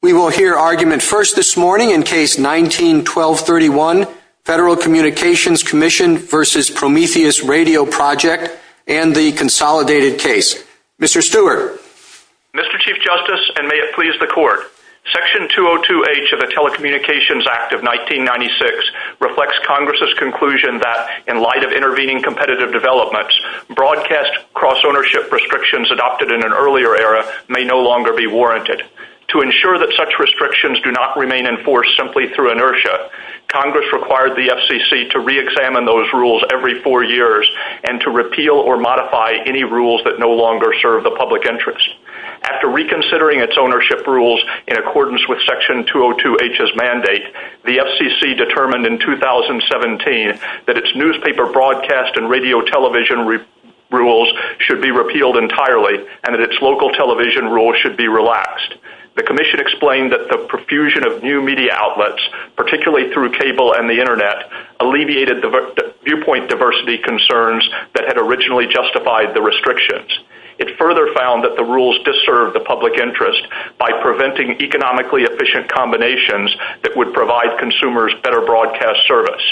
We will hear argument first this morning in Case 19-1231, Federal Communications Commission v. Prometheus Radio Project and the Consolidated Case. Mr. Stewart. Mr. Chief Justice, and may it please the Court, Section 202H of the Telecommunications Act of 1996 reflects Congress' conclusion that, in light of intervening competitive developments, broadcast cross-ownership restrictions adopted in an earlier era may no longer be warranted. To ensure that such restrictions do not remain enforced simply through inertia, Congress required the FCC to re-examine those rules every four years and to repeal or modify any rules that no longer serve the public interest. After reconsidering its ownership rules in accordance with Section 202H's mandate, the FCC determined in 2017 that its newspaper broadcast and radio television rules should be repealed entirely and that its local television rules should be relaxed. The Commission explained that the profusion of new media outlets, particularly through cable and the Internet, alleviated viewpoint diversity concerns that had originally justified the restrictions. It further found that the rules disturbed the public interest by preventing economically efficient combinations that would provide consumers better broadcast service.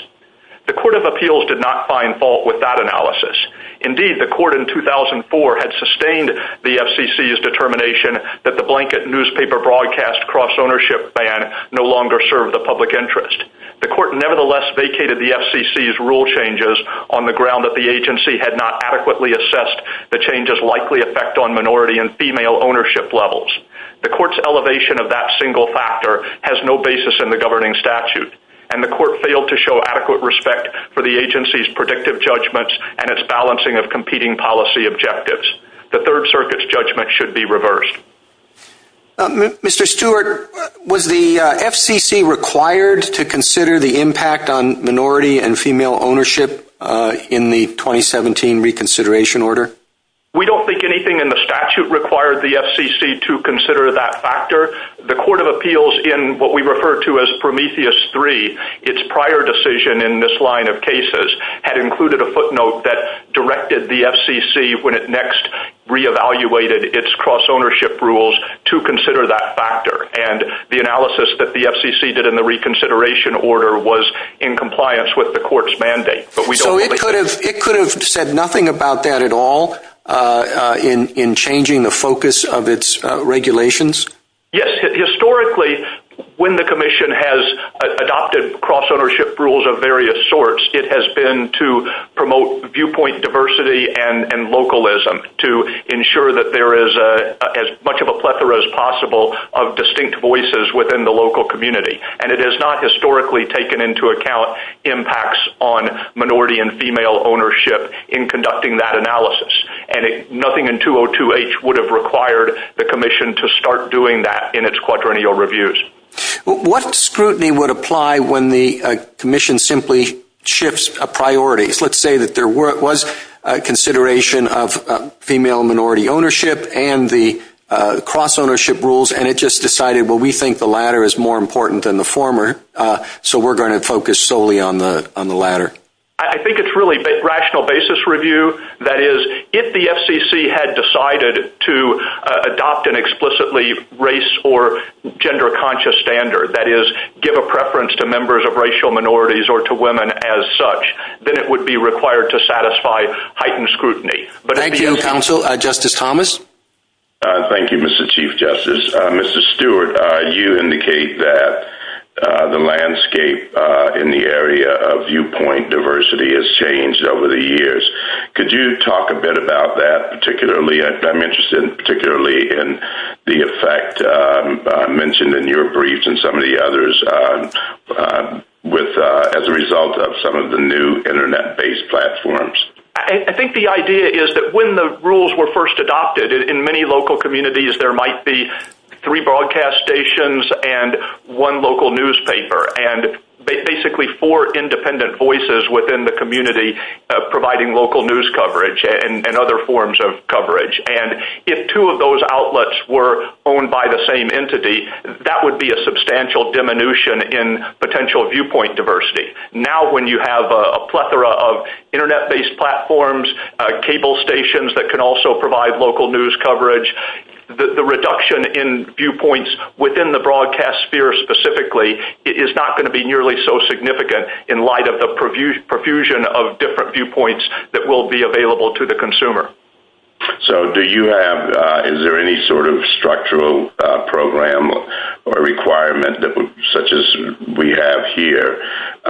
The Court of Appeals did not find fault with that analysis. Indeed, the Court in 2004 had sustained the FCC's determination that the blanket newspaper broadcast cross-ownership ban no longer served the public interest. The Court nevertheless vacated the FCC's rule changes on the ground that the agency had not adequately assessed the change's likely effect on minority and female ownership levels. The Court's elevation of that single factor has no basis in the governing statute, and the Court failed to show adequate respect for the agency's predictive judgments and its balancing of competing policy objectives. The Third Circuit's judgment should be reversed. Mr. Stewart, was the FCC required to consider the impact on minority and female ownership in the 2017 reconsideration order? We don't think anything in the statute required the FCC to consider that factor. The Court of Appeals in what we refer to as Prometheus 3, its prior decision in this line of cases, had included a footnote that directed the FCC, when it next re-evaluated its cross-ownership rules, to consider that factor. And the analysis that the FCC did in the reconsideration order was in compliance with the Court's mandate. So it could have said nothing about that at all in changing the focus of its regulations? Yes. Historically, when the Commission has adopted cross-ownership rules of various sorts, it has been to promote viewpoint diversity and localism, to ensure that there is as much of a plethora as possible of distinct voices within the local community. And it has not historically taken into account impacts on minority and female ownership in conducting that analysis. And nothing in 202H would have required the Commission to start doing that in its quadrennial reviews. What scrutiny would apply when the Commission simply shifts a priority? Let's say that there was a consideration of female and minority ownership and the cross-ownership rules, and it just decided, well, we think the latter is more important than the former, so we're going to focus solely on the latter. I think it's really a rational basis review. That is, if the FCC had decided to adopt an explicitly race or gender-conscious standard, that is, give a preference to members of racial minorities or to women as such, then it would be required to satisfy heightened scrutiny. Thank you, Counsel. Justice Thomas? Thank you, Mr. Chief Justice. Mr. Stewart, you indicate that the landscape in the area of viewpoint diversity has changed over the years. Could you talk a bit about that, particularly? I'm interested particularly in the effect mentioned in your briefs and some of the others as a result of some of the new Internet-based platforms. I think the idea is that when the rules were first adopted, in many local communities there might be three broadcast stations and one local newspaper and basically four independent voices within the community providing local news coverage and other forms of coverage. If two of those outlets were owned by the same entity, that would be a substantial diminution in potential viewpoint diversity. Now, when you have a plethora of Internet-based platforms, cable stations that can also provide local news coverage, the reduction in viewpoints within the broadcast sphere specifically is not going to be nearly so significant in light of the profusion of different viewpoints that will be available to the consumer. So do you have—is there any sort of structural program or requirement, such as we have here, that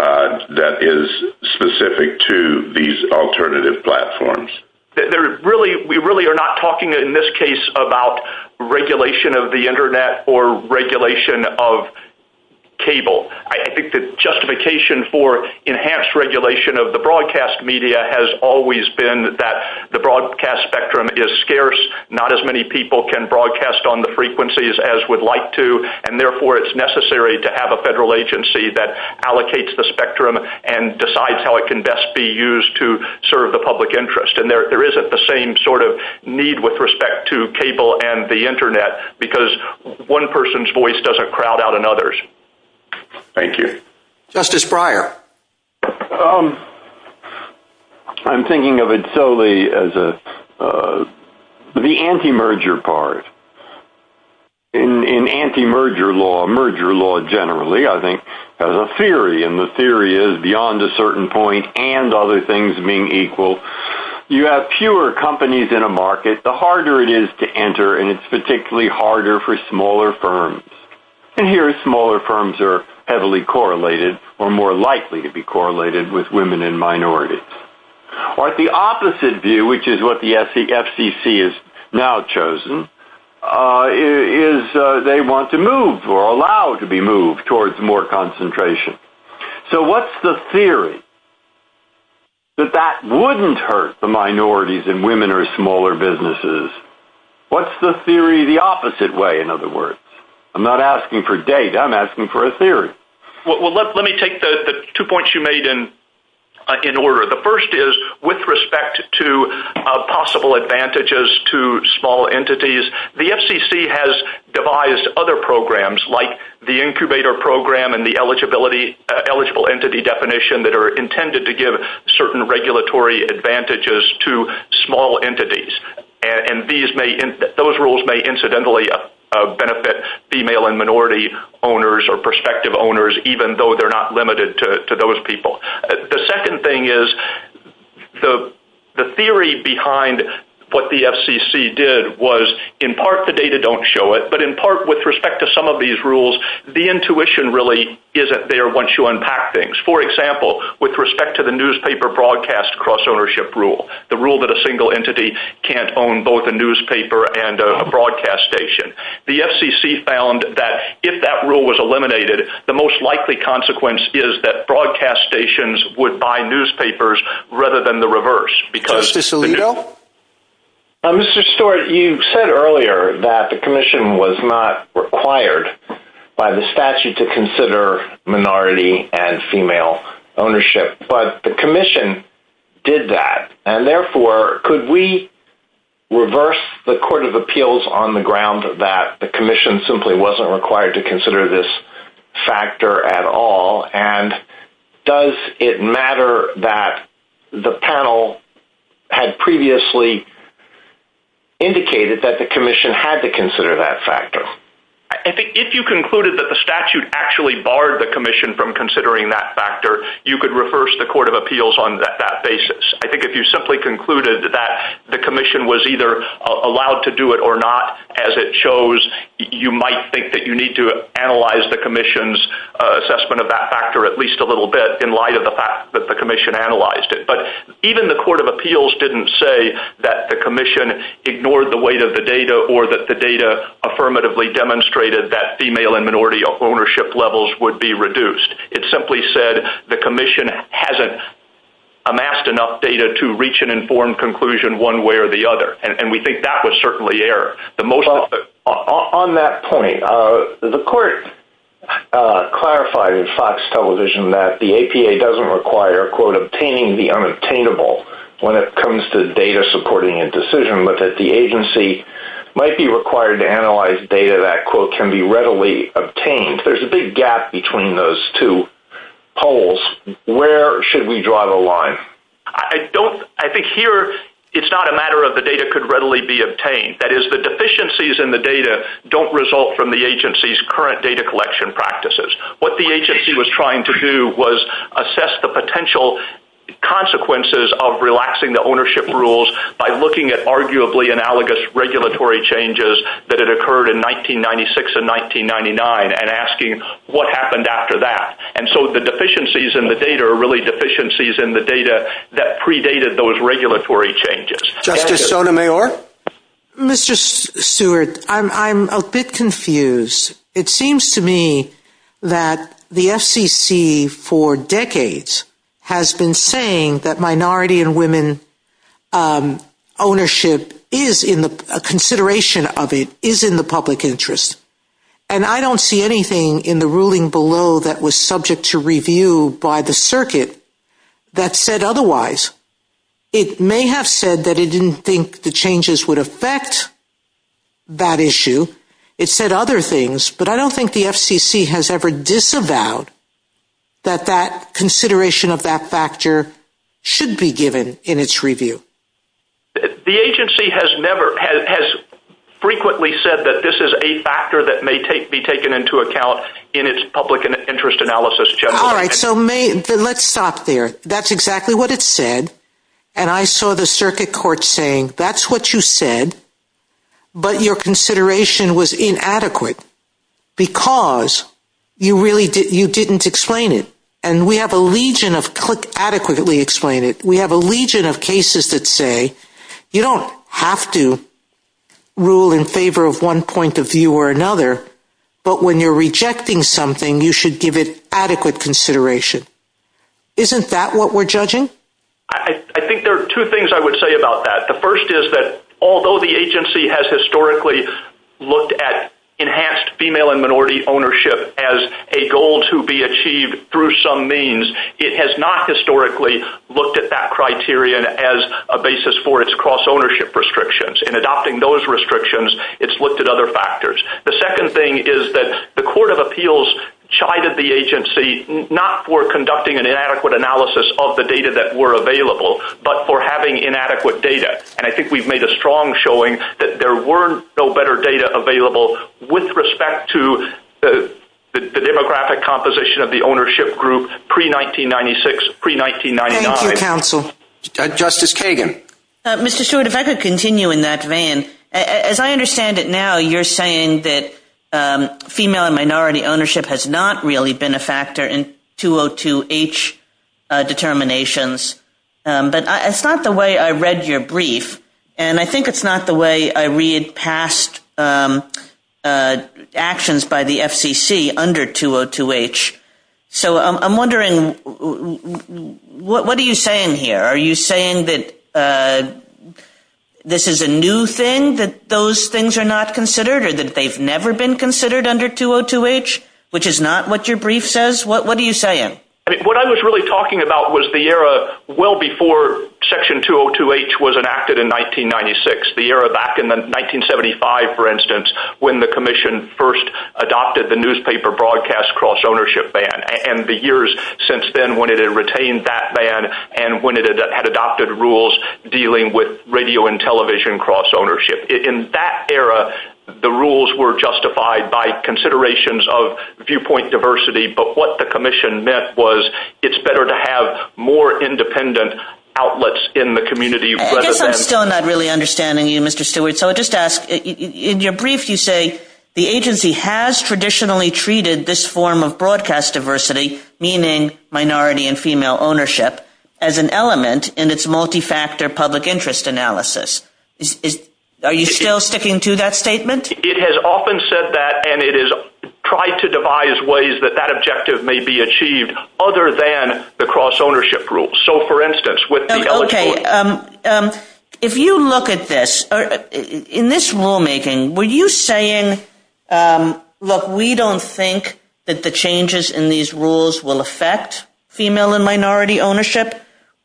is specific to these alternative platforms? We really are not talking in this case about regulation of the Internet or regulation of cable. I think the justification for enhanced regulation of the broadcast media has always been that the broadcast spectrum is scarce. Not as many people can broadcast on the frequencies as would like to, and therefore it's necessary to have a federal agency that allocates the spectrum and decides how it can best be used to serve the public interest. And there isn't the same sort of need with respect to cable and the Internet, because one person's voice doesn't crowd out another's. Thank you. Justice Breyer? I'm thinking of it solely as the anti-merger part. In anti-merger law—merger law generally, I think, has a theory, and the theory is beyond a certain point and other things being equal—you have fewer companies in a market, the harder it is to enter, and it's particularly harder for smaller firms. And here, smaller firms are heavily correlated or more likely to be correlated with women and minorities. But the opposite view, which is what the FCC has now chosen, is they want to move or allow to be moved towards more concentration. So what's the theory that that wouldn't hurt the minorities in women or smaller businesses? What's the theory the opposite way, in other words? I'm not asking for data, I'm asking for a theory. Well, let me take the two points you made in order. The first is, with respect to possible advantages to small entities, the FCC has devised other programs like the incubator program and the eligible entity definition that are intended to give certain regulatory advantages to small entities. And those rules may incidentally benefit female and minority owners or prospective owners, even though they're not limited to those people. The second thing is, the theory behind what the FCC did was, in part, the data don't show it, but in part, with respect to some of these rules, the intuition really isn't there once you unpack things. For example, with respect to the newspaper broadcast cross-ownership rule, the rule that a single entity can't own both a newspaper and a broadcast station, the FCC found that if that rule was eliminated, the most likely consequence is that broadcast stations would buy newspapers rather than the reverse, because... Mr. Salido? Mr. Stewart, you said earlier that the commission was not required by the statute to consider minority and female ownership, but the commission did that. And therefore, could we reverse the court of appeals on the ground that the commission simply wasn't required to consider this factor at all? And does it matter that the panel had previously indicated that the commission had to consider that factor? If you concluded that the statute actually barred the commission from considering that factor, you could reverse the court of appeals on that basis. I think if you simply concluded that the commission was either allowed to do it or not, as it shows, you might think that you need to analyze the commission's assessment of that factor at least a little bit in light of the fact that the commission analyzed it. But even the court of appeals didn't say that the commission ignored the weight of the data or that the data affirmatively demonstrated that female and minority ownership levels would be reduced. It simply said the commission hasn't amassed enough data to reach an informed conclusion one way or the other. And we think that was certainly error. On that point, the court clarified in Fox Television that the APA doesn't require, quote, obtaining the unobtainable when it comes to data supporting a decision, but that the agency might be required to analyze data that, quote, can be readily obtained. There's a big gap between those two poles. Where should we draw the line? I think here it's not a matter of the data could readily be obtained. That is, the deficiencies in the data don't result from the agency's current data collection practices. What the agency was trying to do was assess the potential consequences of relaxing the ownership rules by looking at arguably analogous regulatory changes that had occurred in 1996 and 1999 and asking what happened after that. And so the deficiencies in the data are really deficiencies in the data that predated those regulatory changes. Justice Sotomayor? Mr. Stewart, I'm a bit confused. It seems to me that the FCC for decades has been saying that minority and women ownership is in the consideration of it, is in the public interest. And I don't see anything in the ruling below that was subject to review by the circuit that said otherwise. It may have said that it didn't think the changes would affect that issue. It said other things, but I don't think the FCC has ever disavowed that that consideration of that factor should be given in its review. The agency has never, has frequently said that this is a factor that may be taken into account in its public interest analysis generally. All right, so let's stop there. That's exactly what it said. And I saw the circuit court saying, that's what you said, but your consideration was inadequate because you didn't explain it. And we have a legion of, adequately explain it. We have a legion of cases that say, you don't have to rule in favor of one point of view or another, but when you're rejecting something, you should give it adequate consideration. Isn't that what we're judging? I think there are two things I would say about that. The first is that although the agency has historically looked at enhanced female and minority ownership as a goal to be achieved through some means, it has not historically looked at that criterion as a basis for its cross-ownership restrictions. In adopting those restrictions, it's looked at other factors. The second thing is that the court of appeals chided the agency not for conducting an inadequate analysis of the data that were available, but for having inadequate data. And I think we've made a strong showing that there were no better data available with respect to the demographic composition of the ownership group pre-1996, pre-1999. Thank you, counsel. Justice Kagan. Mr. Stewart, if I could continue in that vein. As I understand it now, you're saying that female and minority ownership has not really been a factor in 202H determinations, but it's not the way I read your brief. And I think it's not the way I read past the actions by the FCC under 202H. So I'm wondering, what are you saying here? Are you saying that this is a new thing, that those things are not considered, or that they've never been considered under 202H, which is not what your brief says? What are you saying? What I was really talking about was the era well before Section 202H was enacted in 1996, the era back in 1975, for instance, when the Commission first adopted the newspaper broadcast cross-ownership ban, and the years since then when it had retained that ban and when it had adopted rules dealing with radio and television cross-ownership. In that era, the rules were justified by considerations of viewpoint diversity, but what the Commission meant was it's better to have more independent outlets in the community. I guess I'm still not really understanding you, Mr. Stewart. So I'll just ask, in your brief you say the agency has traditionally treated this form of broadcast diversity, meaning minority and female ownership, as an element in its multi-factor public interest analysis. Are you still sticking to that statement? It has often said that, and it has tried to devise ways that that objective may be achieved other than the cross-ownership rule. So, for instance, with the— Okay. If you look at this, in this rulemaking, were you saying, look, we don't think that the changes in these rules will affect female and minority ownership,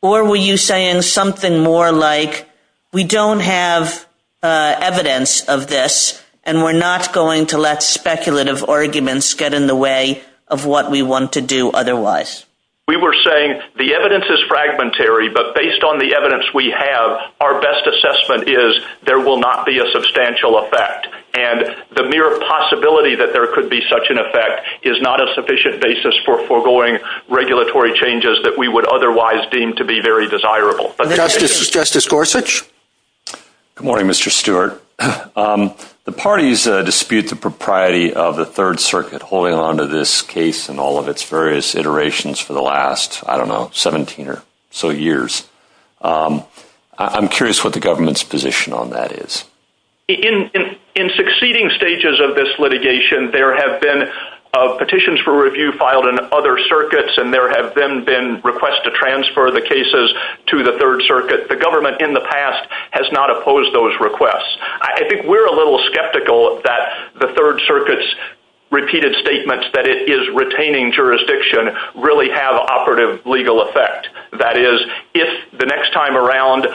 or were you saying something more like, we don't have evidence of this and we're not going to let speculative arguments get in the way of what we want to do otherwise? We were saying the evidence is fragmentary, but based on the evidence we have, our best assessment is there will not be a substantial effect. And the mere possibility that there could be such an effect is not a sufficient basis for foregoing regulatory changes that we would otherwise deem to be very desirable. And then Justice Gorsuch? Good morning, Mr. Stewart. The parties dispute the propriety of the Third Circuit holding onto this case and all of its various iterations for the last, I don't know, 17 or so years. I'm curious what the government's position on that is. In succeeding stages of this litigation, there have been petitions for review filed in other circuits, and there have then been requests to transfer the cases to the Third Circuit. The government in the past has not opposed those requests. I think we're a little skeptical that the Third Circuit's repeated statements that it is retaining jurisdiction really have operative legal effect. That is, if the next time around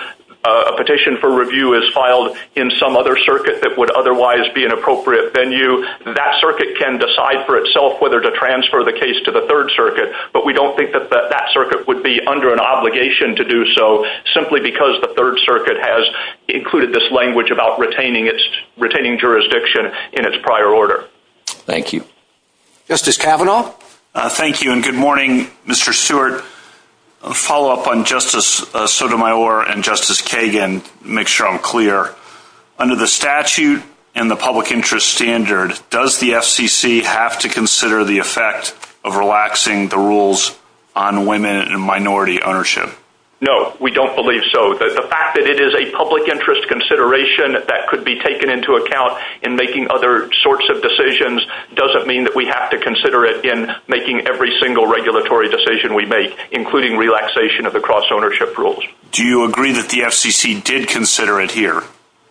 a petition for review is filed in some other circuit that would otherwise be an appropriate venue, that circuit can decide for itself whether to transfer the case to the Third Circuit. But we don't think that that circuit would be under an obligation to do so simply because the Third Circuit has included this in its prior order. Thank you. Justice Kavanaugh? Thank you and good morning, Mr. Stewart. A follow-up on Justice Sotomayor and Justice Kagan, to make sure I'm clear. Under the statute and the public interest standard, does the FCC have to consider the effect of relaxing the rules on women and minority ownership? No, we don't believe so. The fact that it is a public interest consideration that could be sort of decisions doesn't mean that we have to consider it in making every single regulatory decision we make, including relaxation of the cross-ownership rules. Do you agree that the FCC did consider it here?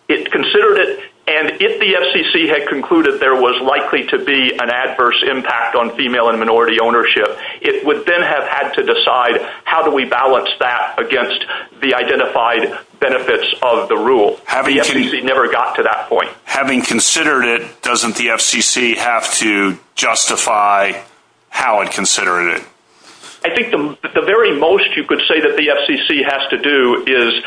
It considered it, and if the FCC had concluded there was likely to be an adverse impact on female and minority ownership, it would then have had to decide how do we balance that against the identified benefits of the rule. The FCC never got to that point. Having considered it, doesn't the FCC have to justify how it considered it? I think the very most you could say that the FCC has to do is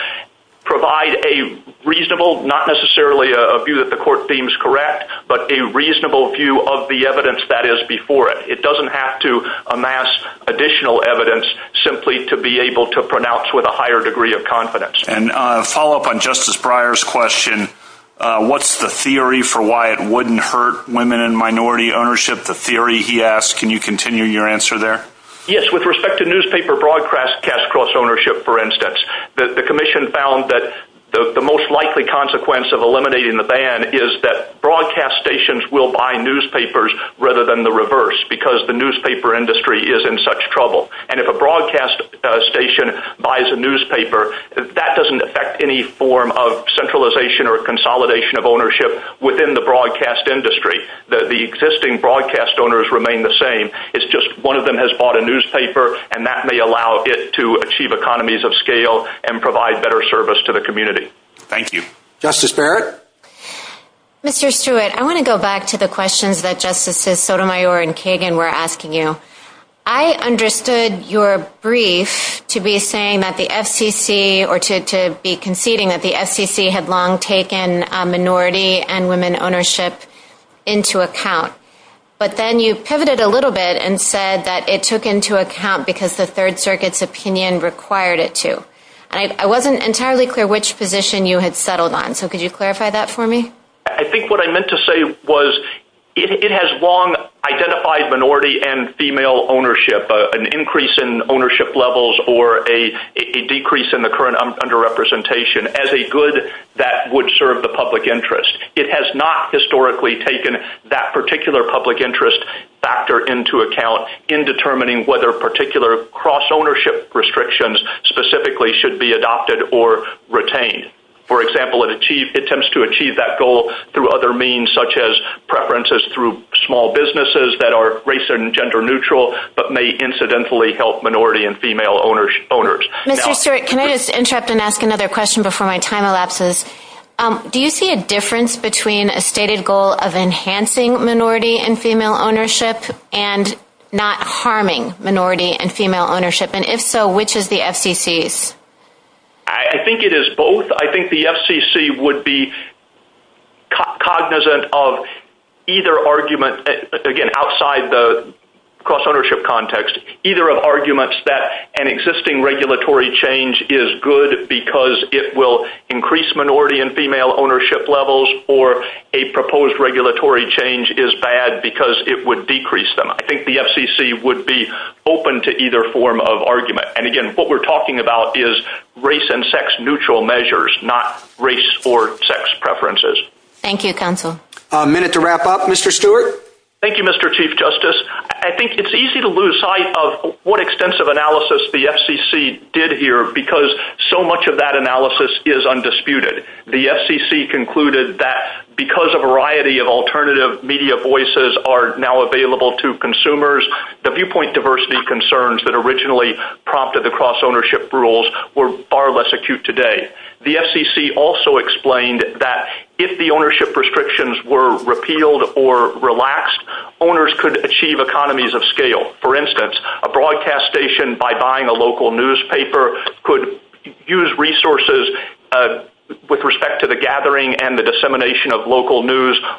provide a reasonable, not necessarily a view that the court deems correct, but a reasonable view of the evidence that is before it. It doesn't have to amass additional evidence simply to be able to pronounce with a higher degree of confidence. Follow-up on Justice Breyer's question, what's the theory for why it wouldn't hurt women and minority ownership, the theory he asked? Can you continue your answer there? Yes, with respect to newspaper broadcast cash cross-ownership, for instance, the commission found that the most likely consequence of eliminating the ban is that broadcast stations will buy newspapers rather than the reverse, because the newspaper industry is in such trouble. If a broadcast station buys a newspaper, that doesn't affect any form of centralization or consolidation of ownership within the broadcast industry. The existing broadcast owners remain the same. It's just one of them has bought a newspaper, and that may allow it to achieve economies of scale and provide better service to the community. Thank you. Justice Barrett? Mr. Stewart, I want to go back to the questions that Justices Sotomayor and Kagan were asking you. I understood your brief to be saying that the FCC, or to be conceding that the FCC had long taken minority and women ownership into account, but then you pivoted a little bit and said that it took into account because the Third Circuit's opinion required it to. I wasn't entirely clear which position you had settled on, so could you clarify that for me? I think what I meant to say was it has long identified minority and female ownership, an increase in ownership levels or a decrease in the current underrepresentation as a good that would serve the public interest. It has not historically taken that particular public interest factor into account in determining whether particular cross-ownership restrictions specifically should be adopted or retained. For example, it attempts to achieve that goal through other means such as preferences through small businesses that are race and gender neutral but may incidentally help minority and female owners. Mr. Stewart, can I just interrupt and ask another question before my time elapses? Do you see a difference between a stated goal of enhancing minority and female ownership and not harming minority and female ownership? If so, which is the FCC's? I think it is both. I think the FCC would be cognizant of either argument, again, outside the cross-ownership context, either of arguments that an existing regulatory change is good because it will increase minority and female ownership levels or a proposed regulatory change is bad because it would decrease them. I think the FCC would be open to either form of argument. And again, what we're talking about is race and sex neutral measures, not race or sex preferences. Thank you, counsel. A minute to wrap up. Mr. Stewart? Thank you, Mr. Chief Justice. I think it's easy to lose sight of what extensive analysis the FCC did here because so much of that analysis is undisputed. The FCC concluded that because a variety of alternative media voices are now available to consumers, the viewpoint diversity concerns that originally prompted the cross-ownership rules were far less acute today. The FCC also explained that if the ownership restrictions were repealed or relaxed, owners could achieve economies of scale. For instance, a broadcast station, by buying a local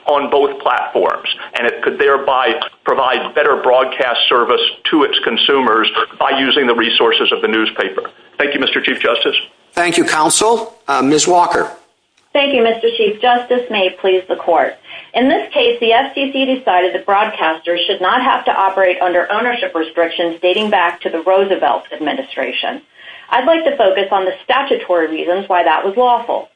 on both platforms, and it could thereby provide better broadcast service to its consumers by using the resources of the newspaper. Thank you, Mr. Chief Justice. Thank you, counsel. Ms. Walker? Thank you, Mr. Chief Justice. May it please the court. In this case, the FCC decided that broadcasters should not have to operate under ownership restrictions dating back to the Roosevelt administration. I'd like to focus on the statutory reasons why that was lawful.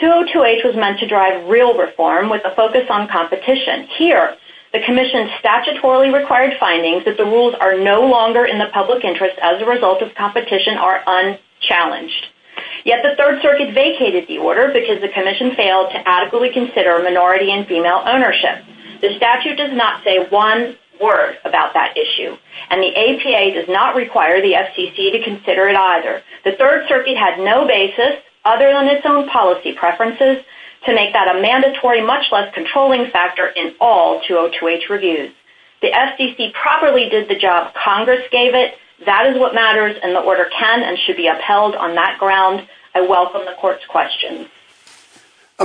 202H was meant to drive real reform with a focus on competition. Here, the Commission statutorily required findings that the rules are no longer in the public interest as a result of competition are unchallenged. Yet the Third Circuit vacated the order because the Commission failed to adequately consider minority and female ownership. The statute does not say one word about that issue, and the APA does not require the FCC to consider it either. The Third Circuit had no basis, other than its own policy preferences, to make that a mandatory, much less controlling factor in all 202H reviews. The FCC properly did the job Congress gave it. That is what matters, and the order can and should be upheld on that ground. I welcome the court's questions.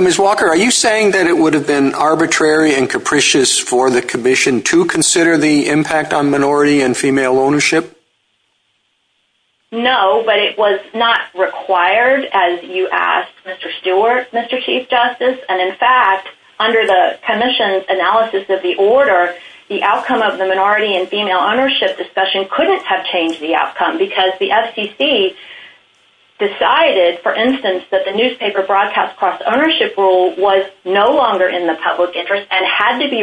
Ms. Walker, are you saying that it would have been arbitrary and capricious for the Commission to consider the impact on minority and female ownership? No, but it was not required as you asked, Mr. Stewart, Mr. Chief Justice. In fact, under the Commission's analysis of the order, the outcome of the minority and female ownership discussion couldn't have changed the outcome because the FCC decided, for instance, that the newspaper broadcast cross-ownership rule was no longer in the public interest and had to be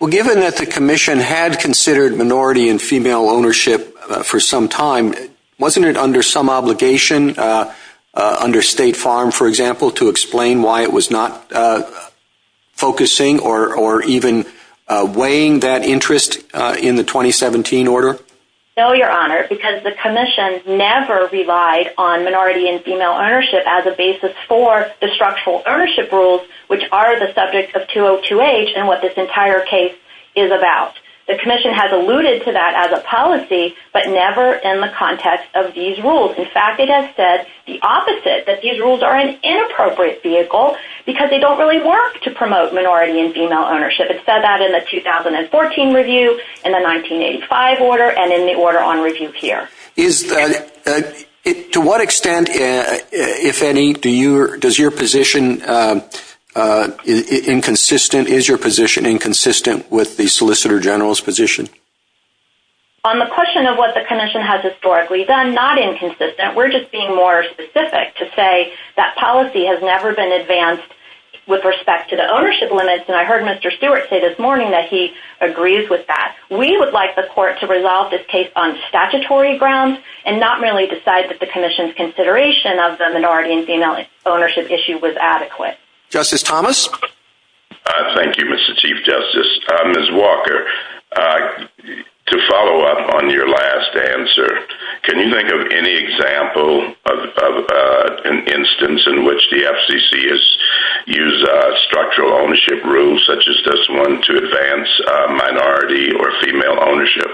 Well, given that the Commission had considered minority and female ownership for some time, wasn't it under some obligation, under State Farm, for example, to explain why it was not focusing or even weighing that interest in the 2017 order? No, Your Honor, because the Commission never relied on minority and female ownership as a basis for the structural ownership rules, which are the subject of 202H and what this entire case is about. The Commission has alluded to that as a policy, but never in the context of these rules. In fact, it has said the opposite, that these rules are an inappropriate vehicle because they don't really work to promote minority and female ownership. It said that in the 2014 review, in the 1985 order, and in the order on review here. To what extent, if any, is your position inconsistent with the Solicitor General's position? On the question of what the Commission has historically done, not inconsistent. We're just being more specific to say that policy has never been advanced with respect to the ownership limits, and I heard Mr. Stewart say this morning that he agrees with that. We would like the Court to resolve this case on statutory grounds and not merely decide that the Commission's consideration of the minority and female ownership issue was adequate. Justice Thomas? Thank you, Mr. Chief Justice. Ms. Walker, to follow up on your last answer, can you think of any example of an instance in which the FCC has used structural ownership rules such as this one to advance minority or female ownership?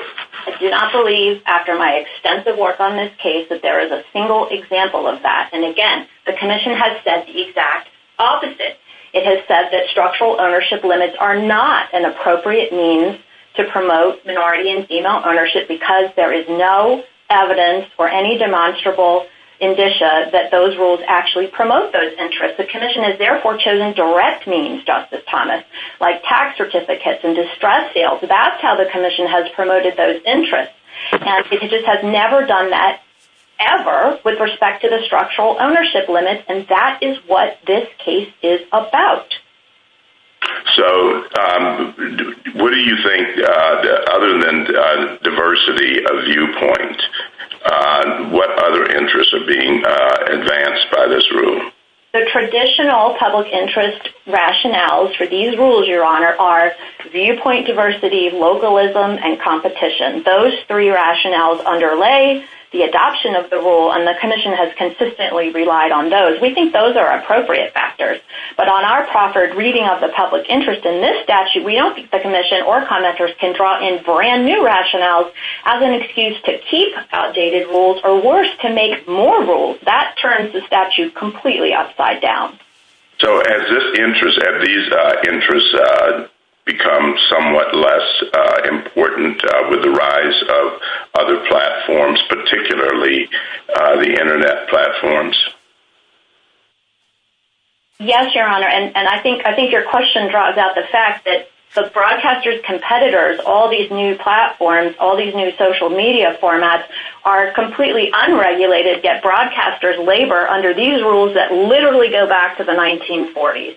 I do not believe, after my extensive work on this case, that there is a single example of that. And again, the Commission has said the exact opposite. It has said that structural ownership limits are not an appropriate means to promote minority and female ownership because there is no evidence or any demonstrable indicia that those rules actually promote those interests. The Commission has therefore chosen direct means, Justice Thomas, like tax certificates and distress sales. That's how the Commission has promoted those interests, and it just has never done that ever with respect to the structural ownership limit, and that is what this case is about. So what do you think, other than diversity of viewpoint, what other interests are being advanced by this rule? The traditional public interest rationales for these rules, Your Honor, are viewpoint diversity, localism, and competition. Those three rationales underlay the adoption of the rule, and the Commission has consistently relied on those. We think those are appropriate factors, but on our proffered reading of the public interest in this statute, we don't think the Commission or conductors can draw in brand new rationales as an excuse to keep outdated rules or, worse, to make more rules. That turns the statute completely upside down. So have these interests become somewhat less important with the rise of other platforms, particularly the Internet platforms? Yes, Your Honor, and I think your question draws out the fact that the broadcaster's competitors, all these new platforms, all these new social media formats, are completely unregulated, yet broadcasters labor under these rules that literally go back to the 1940s.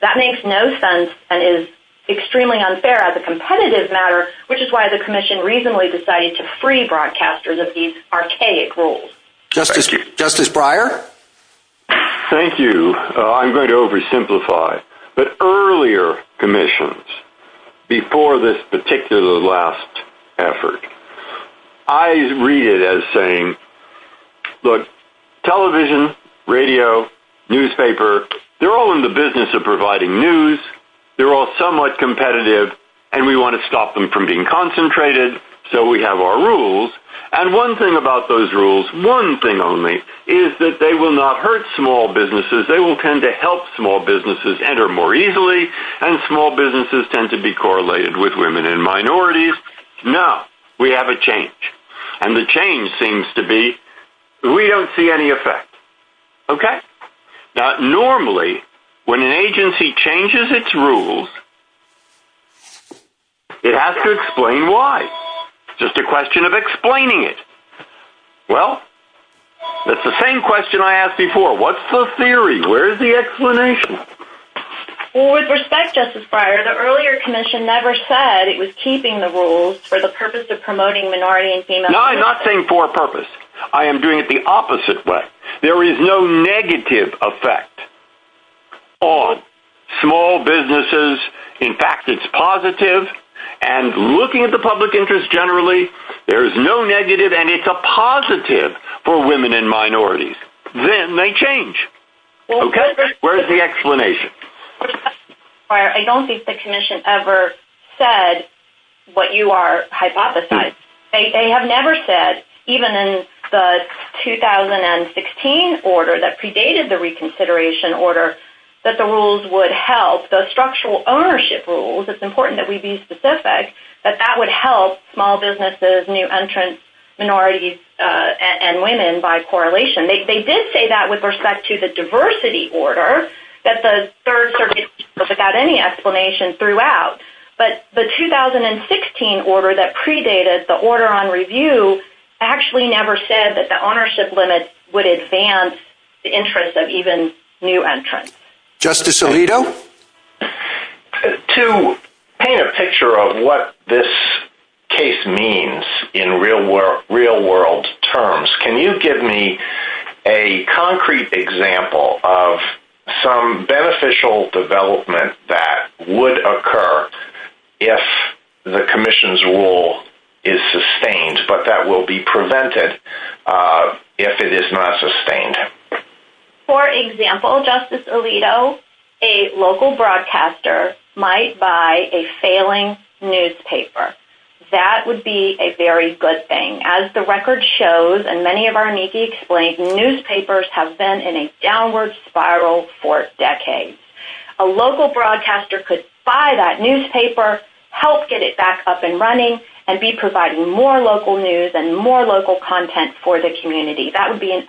That makes no sense and is extremely unfair as a competitive matter, which is why the Commission reasonably decided to free broadcasters of these archaic rules. Justice Breyer? Thank you. I'm going to oversimplify, but earlier commissions, before this particular last effort, I read it as saying, look, television, radio, newspaper, they're all in the business of providing news. They're all somewhat competitive, and we want to stop them from being concentrated, so we have our rules. And one thing about those rules, one thing only, is that they will not hurt small businesses. They will tend to help small businesses enter more easily, and small businesses tend to be correlated with women and minorities. No, we have a change, and the change seems to be we don't see any effect. Okay? Now, normally, when an agency changes its rules, it has to explain why. It's just a question of explaining it. Well, that's the same question I asked before. What's the theory? Where's the explanation? Well, with respect, Justice Breyer, the earlier commission never said it was keeping the rules for the purpose of promoting minority and female... No, I'm not saying for a purpose. I am doing it the opposite way. There is no negative effect on small businesses. In fact, it's positive, and looking at the public interest generally, there is no negative, and it's a positive for women and minorities. Then they change. Okay? Where's the explanation? Justice Breyer, I don't think the commission ever said what you are hypothesizing. They have never said, even in the 2016 order that predated the reconsideration order, that the rules would help. The structural ownership rules, it's important that we be specific, that that would help small minorities and women by correlation. They did say that with respect to the diversity order, that the Third Circuit ruled without any explanation throughout, but the 2016 order that predated the order on review actually never said that the ownership limit would advance the interest of even new entrants. Justice Alito? To paint a picture of what this case means in real-world terms, can you give me a concrete example of some beneficial development that would occur if the commission's rule is sustained, but that will be prevented if it is not sustained? For example, Justice Alito, a local broadcaster might buy a failing newspaper. That would be a very good thing. As the record shows, and many of our NICI explains, newspapers have been in a downward spiral for decades. A local broadcaster could buy that newspaper, help get it back up and running, and be providing more local news and more local content for the community. That would be an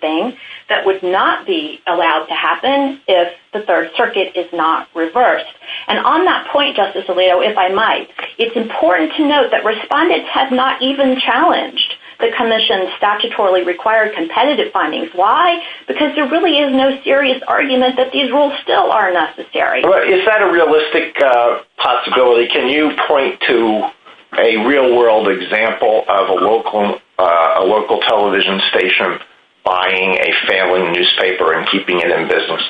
thing that would not be allowed to happen if the Third Circuit is not reversed. On that point, Justice Alito, if I might, it's important to note that respondents have not even challenged the commission's statutorily required competitive findings. Why? Because there really is no serious argument that these rules still are necessary. Is that a realistic possibility? Can you point to a real-world example of a local television station buying a failing newspaper and keeping it in business?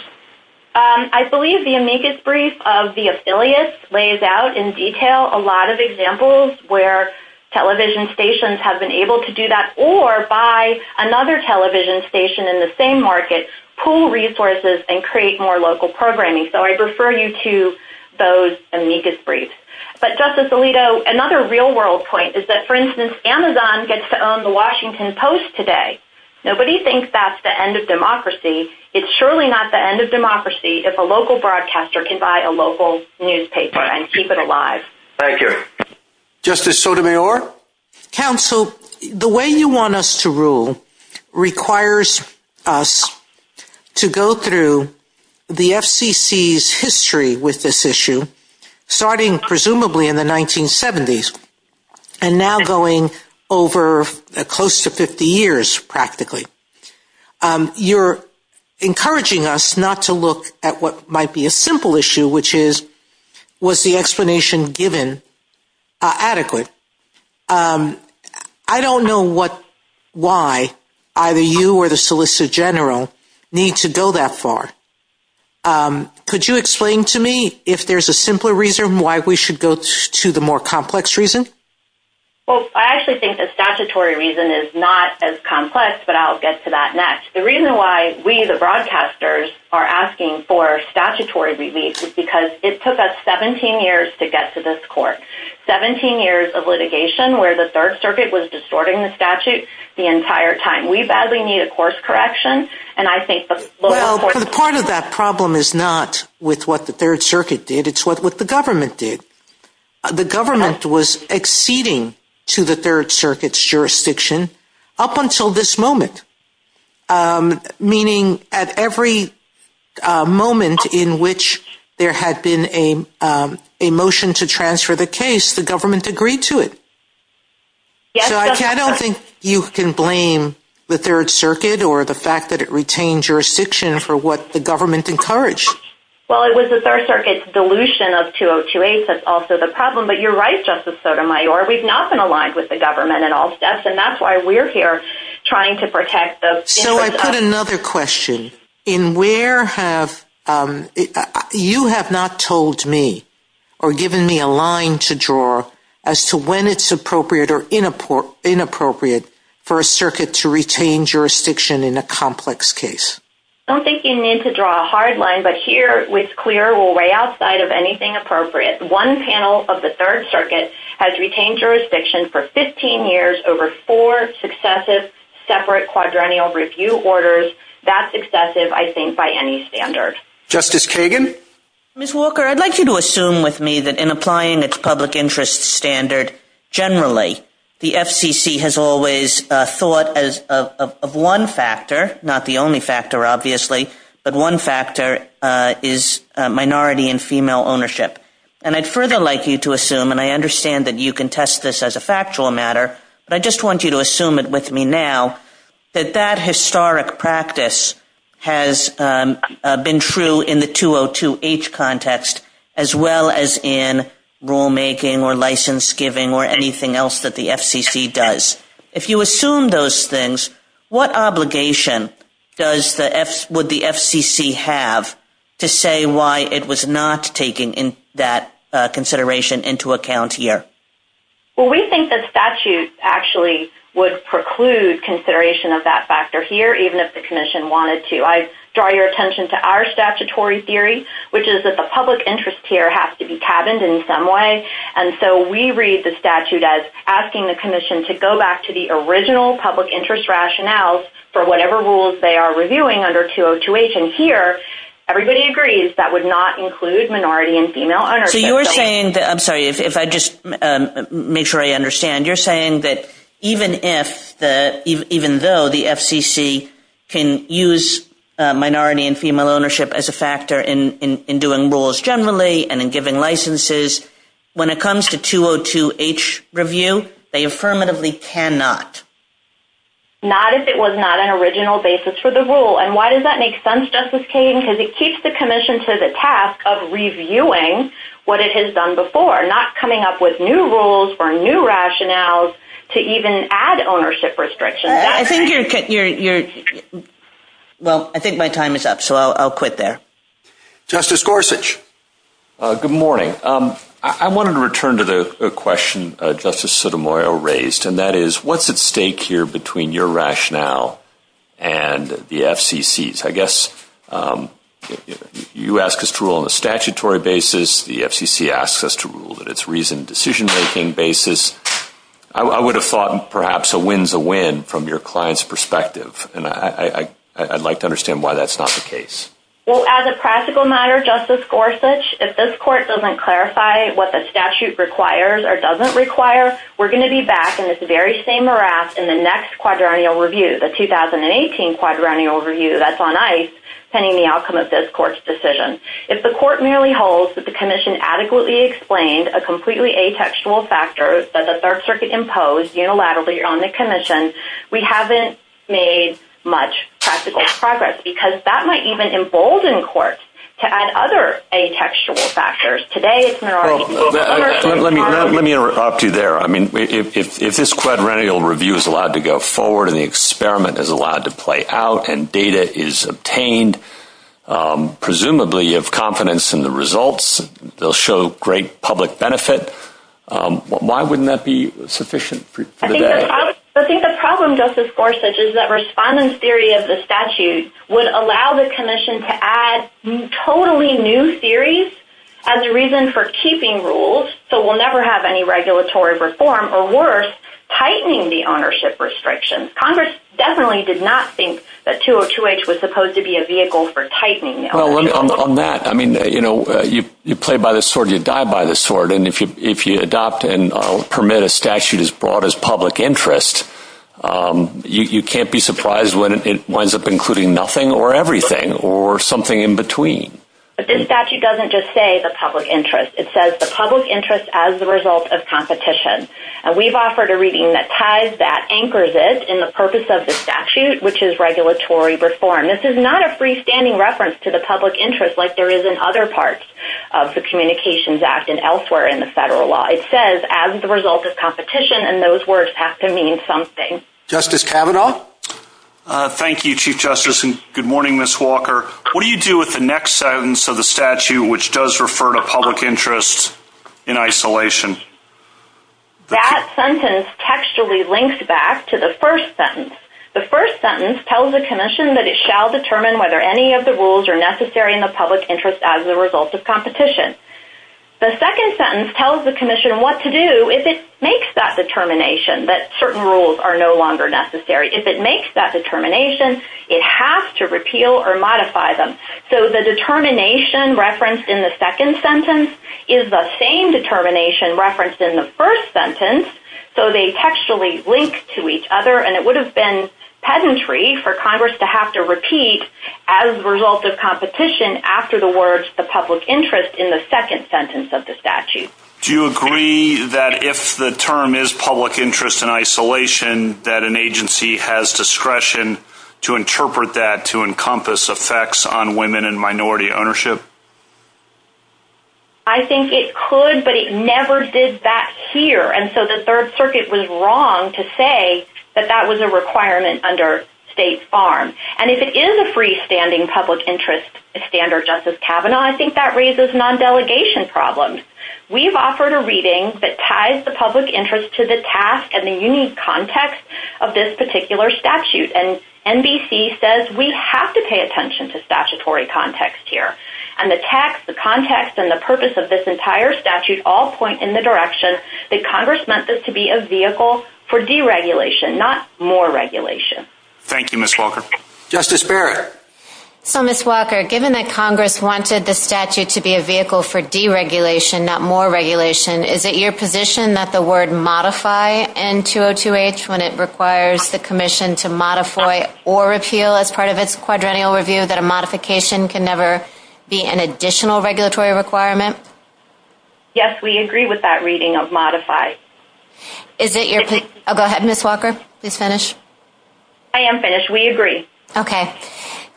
I believe the amicus brief of the affiliates lays out in detail a lot of examples where television stations have been able to do that or buy another television station in the same market, pool resources, and create more local programming. So I refer you to those amicus briefs. But, Justice Alito, another real-world point is that, for instance, Amazon gets to own the Washington Post today. Nobody thinks that's the end of democracy. It's surely not the end of democracy if a local broadcaster can buy a local newspaper and keep it alive. Thank you. Justice Sotomayor? Counsel, the way you want us to rule requires us to go through the FCC's history with this issue, starting presumably in the 1970s and now going over close to 50 years, practically. You're encouraging us not to look at what might be a simple issue, which is, was the explanation given adequately? I don't know why either you or the Solicitor General need to go that far. Could you explain to me if there's a simpler reason why we should go to the more complex reason? Well, I actually think the statutory reason is not as complex, but I'll get to that next. The reason why we, the broadcasters, are asking for statutory relief is because it took us 17 years to get to this court. 17 years of litigation where the Third Circuit was correct. Well, part of that problem is not with what the Third Circuit did. It's what the government did. The government was acceding to the Third Circuit's jurisdiction up until this moment, meaning at every moment in which there had been a motion to transfer the case, the government agreed to it. I don't think you can blame the Third Circuit or the fact that it retained jurisdiction for what the government encouraged. Well, it was the Third Circuit's dilution of 2028 that's also the problem, but you're right, Justice Sotomayor. We've not been aligned with the government at all steps, and that's why we're here trying to protect the- So I've got another question. You have not told me or given me a line to draw as to when it's appropriate or inappropriate for a circuit to retain jurisdiction in a complex case. I don't think you need to draw a hard line, but here it's clear we're way outside of anything appropriate. One panel of the Third Circuit has retained jurisdiction for 15 years over four successive separate quadrennial review orders. That's excessive, I think, by any standard. Justice Kagan? Ms. Walker, I'd like you to assume with me that in applying its public interest standard generally, the FCC has always thought of one factor, not the only factor, obviously, but one factor is minority and female ownership. I'd further like you to assume, and I understand that you can test this as a factual matter, but I just want you to assume it with me now, that that historic practice has been true in the 2028 context as well as in rulemaking or license giving or anything else that the FCC does. If you assume those things, what obligation would the FCC have to say why it was not taking that consideration into account here? Well, we think that statute actually would preclude consideration of that factor here, even if the Commission wanted to. I draw your attention to our statutory theory, which is that the public interest here has to be cabined in some way, and so we read the statute as asking the Commission to go back to the original public interest rationales for whatever rules they are reviewing under 2028, and here everybody agrees that would not include minority and female ownership. I'm sorry, if I just make sure I understand. You're saying that even though the FCC can use minority and female ownership as a factor in doing rules generally and in giving licenses, when it comes to 202H review, they affirmatively cannot. Not if it was not an original basis for the rule, and why does that make sense, Justice Kagan? It keeps the Commission to the task of reviewing what it has done before, not coming up with new rules or new rationales to even add ownership restrictions. I think my time is up, so I'll quit there. Justice Gorsuch. Good morning. I wanted to return to the question Justice Sotomayor raised, and that is, what's at stake here between your rationale and the FCC's? I guess you ask us to rule on a statutory basis. The FCC asks us to rule on its reasoned decision-making basis. I would have thought perhaps a win's a win from your client's perspective, and I'd like to understand why that's not the case. Well, as a practical matter, Justice Gorsuch, if this Court doesn't clarify what the next quadrennial review, the 2018 quadrennial review that's on ice, pending the outcome of this Court's decision, if the Court merely holds that the Commission adequately explained a completely atextual factor that the Third Circuit imposed unilaterally on the Commission, we haven't made much practical progress, because that might even embolden the Court to add other atextual factors. Well, let me interrupt you there. I mean, if this quadrennial review is allowed to go forward, and the experiment is allowed to play out, and data is obtained, presumably you have confidence in the results, they'll show great public benefit, why wouldn't that be sufficient? I think the problem, Justice Gorsuch, is that respondents' theory of the statute would allow the Commission to add totally new theories as a reason for keeping rules, so we'll never have any regulatory reform, or worse, tightening the ownership restrictions. Congress definitely did not think that 202H was supposed to be a vehicle for tightening. On that, I mean, you play by the sword, you die by the sword, and if you adopt and permit a statute as broad as public interest, you can't be surprised when it winds up including nothing, or everything, or something in between. But this statute doesn't just say the public interest. It says the public interest as a result of competition, and we've offered a reading that ties that, anchors it, in the purpose of the statute, which is regulatory reform. This is not a freestanding reference to the public interest like there is in other parts of the Communications Act and elsewhere in the federal law. It says, as the result of competition, and those words have to mean something. Justice Kavanaugh? Thank you, Chief Justice, and good morning, Ms. Walker. What do you do with the next sentence of the statute, which does refer to public interest in isolation? That sentence textually links back to the first sentence. The first sentence tells the Commission that it shall determine whether any of the rules are necessary in the public interest as a result of competition. The second sentence tells the Commission what to do if it makes that determination, that certain rules are no longer necessary. If it makes that determination, it has to repeal or modify them. So the determination referenced in the second sentence is the same determination referenced in the first sentence, so they textually link to each other, and it would have been peasantry for Congress to have to repeat, as a result of competition, after the words, the public interest, in the second sentence of the statute. Do you agree that if the term is public interest in isolation, that an agency has discretion to interpret that to encompass effects on women and minority ownership? I think it could, but it never did that here, and so the Third Circuit was wrong to say that that was a requirement under State's arm, and if it is a freestanding public interest standard, Justice Kavanaugh, I think that raises a non-delegation problem. We've offered a reading that ties the public interest to the task and the unique context of this particular statute, and NBC says we have to pay attention to statutory context here, and the text, the context, and the purpose of this entire statute all point in the direction that Congress meant this to be a vehicle for deregulation, not more regulation. Thank you, Ms. Walker. Justice Barrett. So, Ms. Walker, given that Congress wanted the statute to be a vehicle for deregulation, not more regulation, is it your position that the word modify in 202H, when it requires the commission to modify or repeal as part of its quadrennial review, that a modification can never be an additional regulatory requirement? Yes, we agree with that reading of modify. Is it your—oh, go ahead, Ms. Walker. You finished? I am finished. We agree. Okay.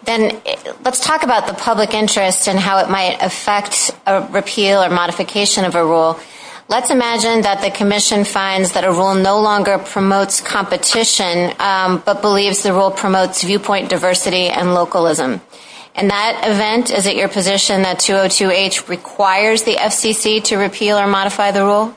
Then let's talk about the public interest and how it might affect a repeal or modification of a rule. Let's imagine that the commission finds that a rule no longer promotes competition, but believes the rule promotes viewpoint diversity and localism. In that event, is it your position that 202H requires the FCC to repeal or modify the rule?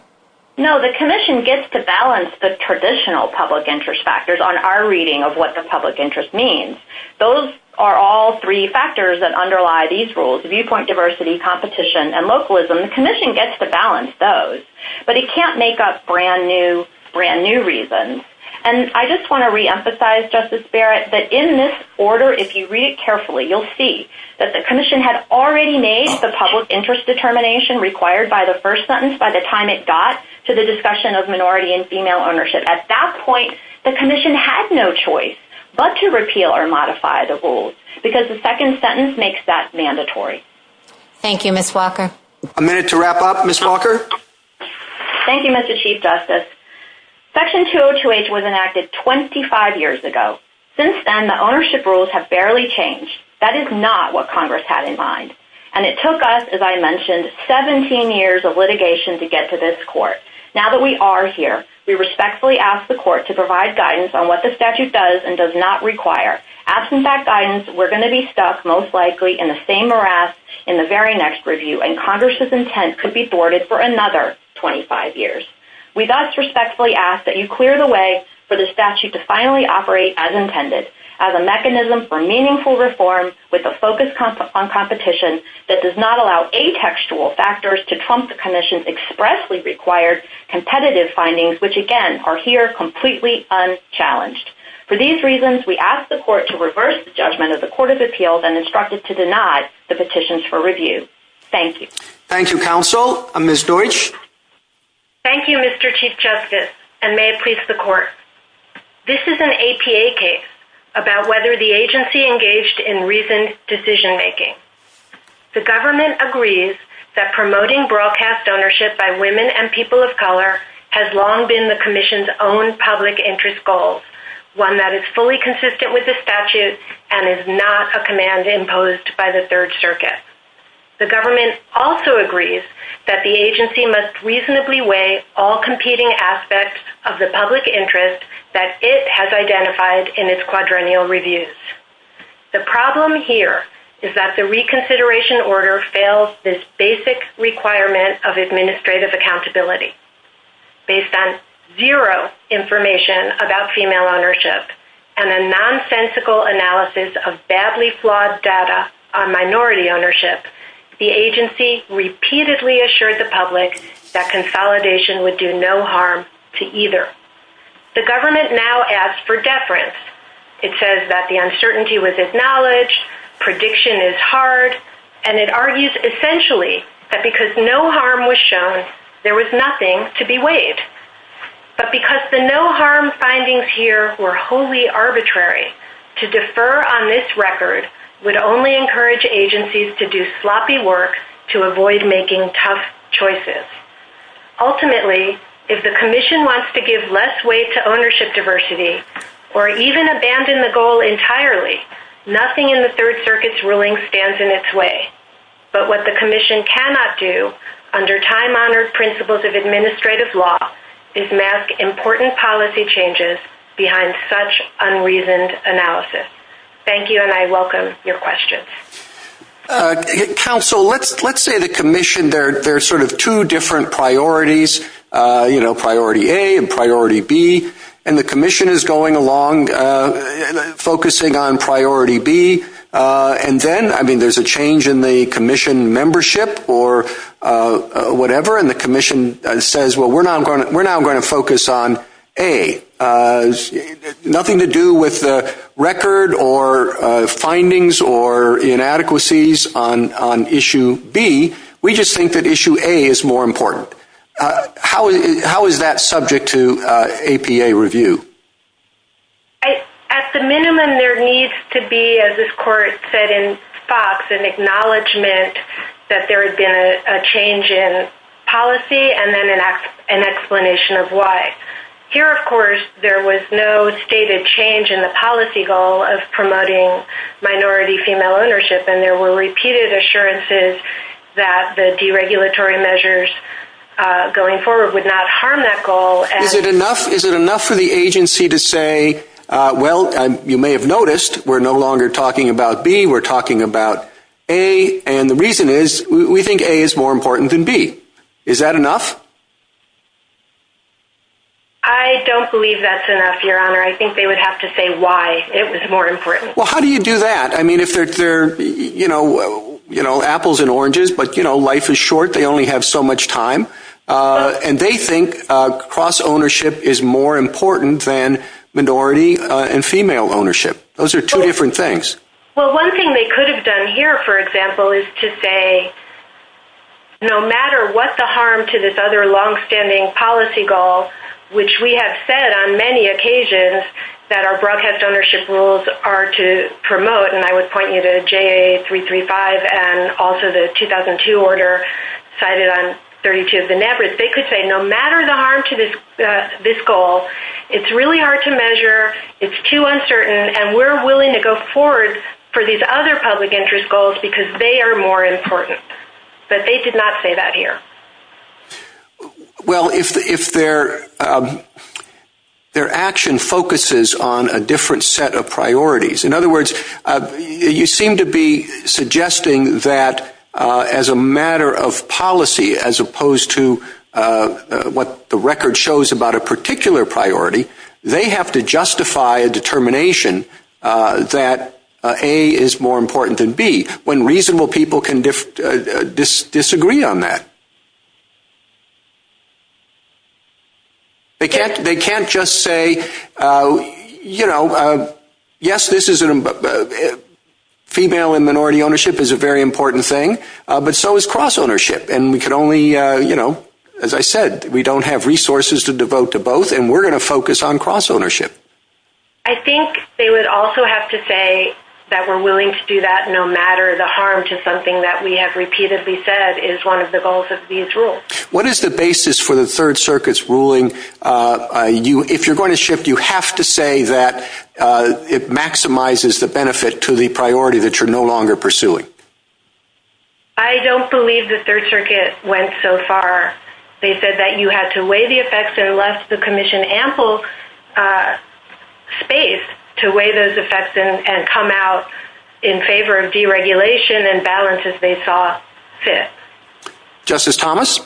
No, the commission gets to balance the traditional public interest factors on our reading of what the public interest means. Those are all three factors that underlie these rules, viewpoint diversity, competition, and localism. The commission gets to balance those, but it can't make up brand new reasons. And I just want to reemphasize, Justice Barrett, that in this order, if you read it carefully, you'll see that the commission had already made the public interest determination required by the first sentence by the time it got to the discussion of minority and female ownership. At that point, the commission had no choice but to repeal or modify the rules because the second sentence makes that mandatory. Thank you, Ms. Walker. A minute to wrap up, Ms. Walker. Thank you, Mr. Chief Justice. Section 202H was enacted 25 years ago. Since then, ownership rules have barely changed. That is not what Congress had in mind. And it took us, as I mentioned, 17 years of litigation to get to this Court. Now that we are here, we respectfully ask the Court to provide guidance on what the statute does and does not require. Absent that guidance, we're going to be stuck, most likely, in the same morass in the very next review, and Congress's intent could be thwarted for another 25 years. We thus respectfully ask that you clear the way for the statute to finally operate as intended, as a mechanism for meaningful reform with a focus on competition that does not allow atextual factors to trump the commission's expressly required competitive findings, which, again, are here completely unchallenged. For these reasons, we ask the Court to reverse the judgment of the Court of Appeals and instruct it to deny the petitions for review. Thank you. Thank you, counsel. Ms. Deutsch? Thank you, Mr. Chief Justice, and may it please the Court. This is an APA case about whether the agency engaged in reasoned decision-making. The government agrees that promoting broadcast ownership by women and people of color has long been the commission's own public interest goal, one that is fully consistent with the statute and is not a command imposed by the Third Circuit. The government also agrees that the agency must reasonably weigh all competing aspects of the public interest that it has identified in its quadrennial reviews. The problem here is that the reconsideration order fails this basic requirement of administrative accountability. Based on zero information about female ownership and a nonsensical analysis of badly flawed data on minority ownership, the agency repeatedly assured the public that consolidation would do no harm to either. The government now asks for deference. It says that the uncertainty was acknowledged, prediction is hard, and it argues essentially that because no harm was shown, there was nothing to be weighed. But because the no-harm findings here were wholly arbitrary, to defer on this record would only encourage agencies to do sloppy work to avoid making tough choices. Ultimately, if the commission wants to give less weight to ownership diversity or even abandon the goal entirely, nothing in the Third Circuit's ruling stands in its way. But what the commission cannot do under time-honored principles of administrative law is mask important policy changes behind such unreasoned analysis. Thank you, and I welcome your questions. Council, let's say the commission, there are sort of two different priorities, you know, priority A and priority B, and the commission is going along focusing on priority B, and then, I mean, there's a change in the commission membership or whatever, and the commission is now going to focus on A. Nothing to do with the record or findings or inadequacies on issue B. We just think that issue A is more important. How is that subject to APA review? At the minimum, there needs to be, as this court said in Fox, an acknowledgement that there has been a change in policy and then an explanation of why. Here, of course, there was no stated change in the policy goal of promoting minority female ownership, and there were repeated assurances that the deregulatory measures going forward would not harm that goal. Is it enough for the agency to say, well, you may have noticed, we're no longer talking about B, we're talking about A, and the reason is we think A is more important than B. Is that enough? I don't believe that's enough, Your Honor. I think they would have to say why it was more important. Well, how do you do that? I mean, if they're, you know, apples and oranges, but, you know, life is short, they only have so much time, and they think cross-ownership is more important than minority and female ownership. Those are two different things. Well, one thing they could have done here, for example, is to say, no matter what the harm to this other long-standing policy goal, which we have said on many occasions that our broadcast ownership rules are to promote, and I would point you to JA-335 and also the 2002 order cited on 32 of the NABRs, they could say, no matter the harm to this goal, it's really hard to measure, it's too uncertain, and we're willing to go forward for these other public interest goals because they are more important. But they did not say that here. Well, if their action focuses on a different set of priorities, in other words, you seem to be priority, they have to justify a determination that, A, is more important than B, when reasonable people can disagree on that. They can't just say, you know, yes, this is, female and minority ownership is a very important thing, but so is cross-ownership, and we could only, you know, as I said, we don't have resources to devote to both, and we're going to focus on cross-ownership. I think they would also have to say that we're willing to do that no matter the harm to something that we have repeatedly said is one of the goals of these rules. What is the basis for the Third Circuit's ruling? If you're going to shift, you have to say that it maximizes the benefit to the They said that you had to weigh the effects unless the commission ample space to weigh those effects and come out in favor of deregulation and balance as they saw fit. Justice Thomas?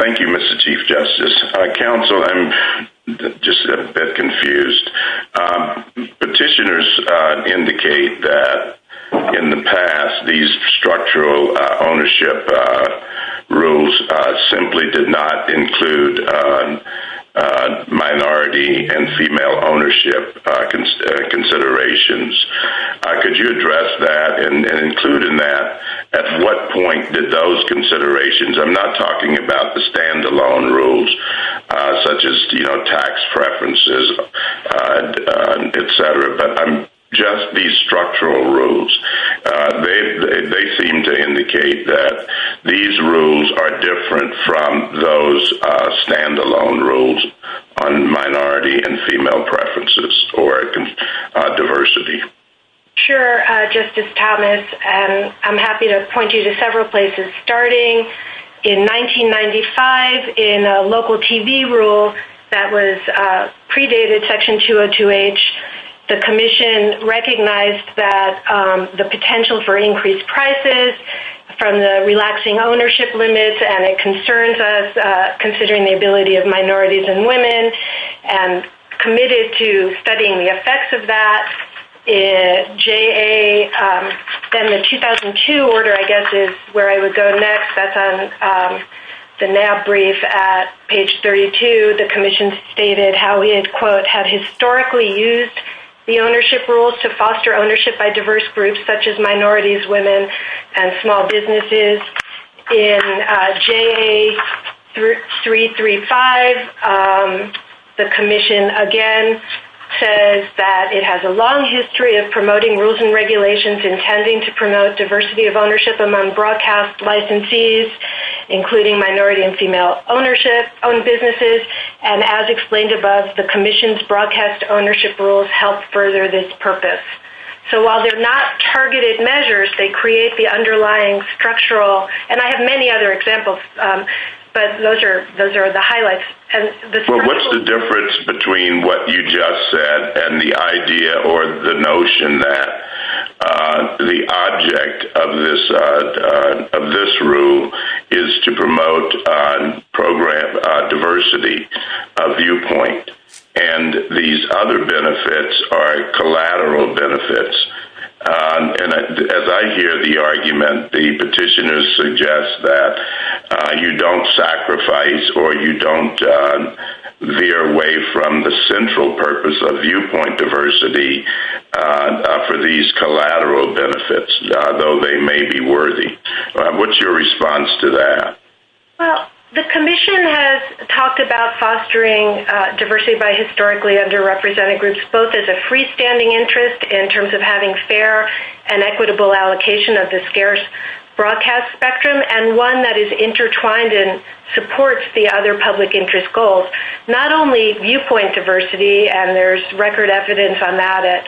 Thank you, Mr. Chief Justice. Counsel, I'm just a bit confused. Petitioners indicate that in the past, these structural ownership rules simply did not include minority and female ownership considerations. Could you address that and include in that at what point did those considerations, I'm not talking about the standalone rules such as, you know, tax preferences, et cetera, but just these structural rules, they seem to indicate that these rules are different from those standalone rules on minority and female preferences for diversity. Sure, Justice Thomas. I'm happy to point you to several places, starting in 1995 in a local TV rule that was predated Section 202H. The commission recognized that the potential for increased prices from the relaxing ownership limits and the concerns of considering the ability of minorities and women and committed to studying the effects of that. Then the 2002 order, where I would go next, that's on the NAB brief at page 32, the commission stated how it, quote, had historically used the ownership rules to foster ownership by diverse groups, such as minorities, women, and small businesses. In JA 335, the commission, again, says that it has a long history of promoting rules and regulations intending to promote diversity of ownership among broadcast licensees, including minority and female ownership, owned businesses, and as explained above, the commission's broadcast ownership rules help further this purpose. So while they're not targeted measures, they create the underlying structural, and I have many other examples, but those are the highlights. What's the difference between what you just said and the idea or the notion that the object of this rule is to promote program diversity of viewpoint and these other benefits are collateral benefits? And as I hear the argument, the petitioners suggest that you don't sacrifice or you don't veer away from the central purpose of viewpoint diversity and offer these collateral benefits, though they may be worthy. What's your response to that? Well, the commission has talked about fostering diversity by historically underrepresented groups, both as a freestanding interest in terms of having fair and equitable allocation of the scarce broadcast spectrum and one that is intertwined and supports the other public interest goals, not only viewpoint diversity, and there's record evidence on that at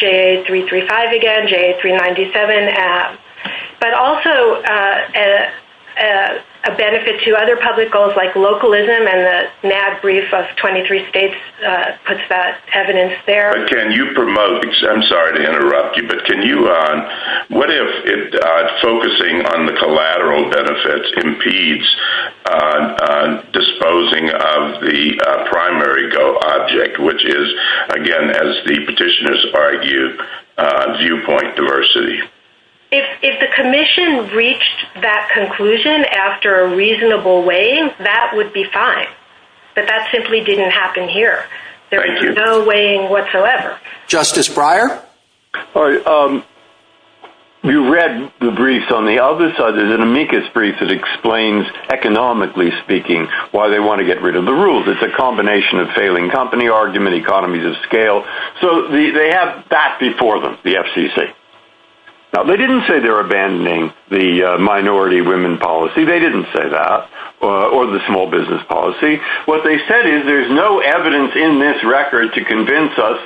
JA-335 again, JA-397, but also a benefit to other public goals like localism, and the NAB brief of 23 states puts that evidence there. Can you promote, I'm sorry to interrupt you, but what if focusing on the collateral benefits impedes disposing of the primary goal object, which is, again, as the petitioners argue, viewpoint diversity? If the commission reached that conclusion after a reasonable way, that would be fine, but that simply didn't happen here. There is no weighing whatsoever. Justice Breyer? All right. You read the briefs on the other side. There's an amicus brief that explains, economically speaking, why they want to get rid of the rules. It's a combination of failing company argument, economies of scale, so they have that before them, the FCC. Now, they didn't say they're abandoning the minority women policy. They didn't say that, or the small business policy. What they said is there's no evidence in this record to convince us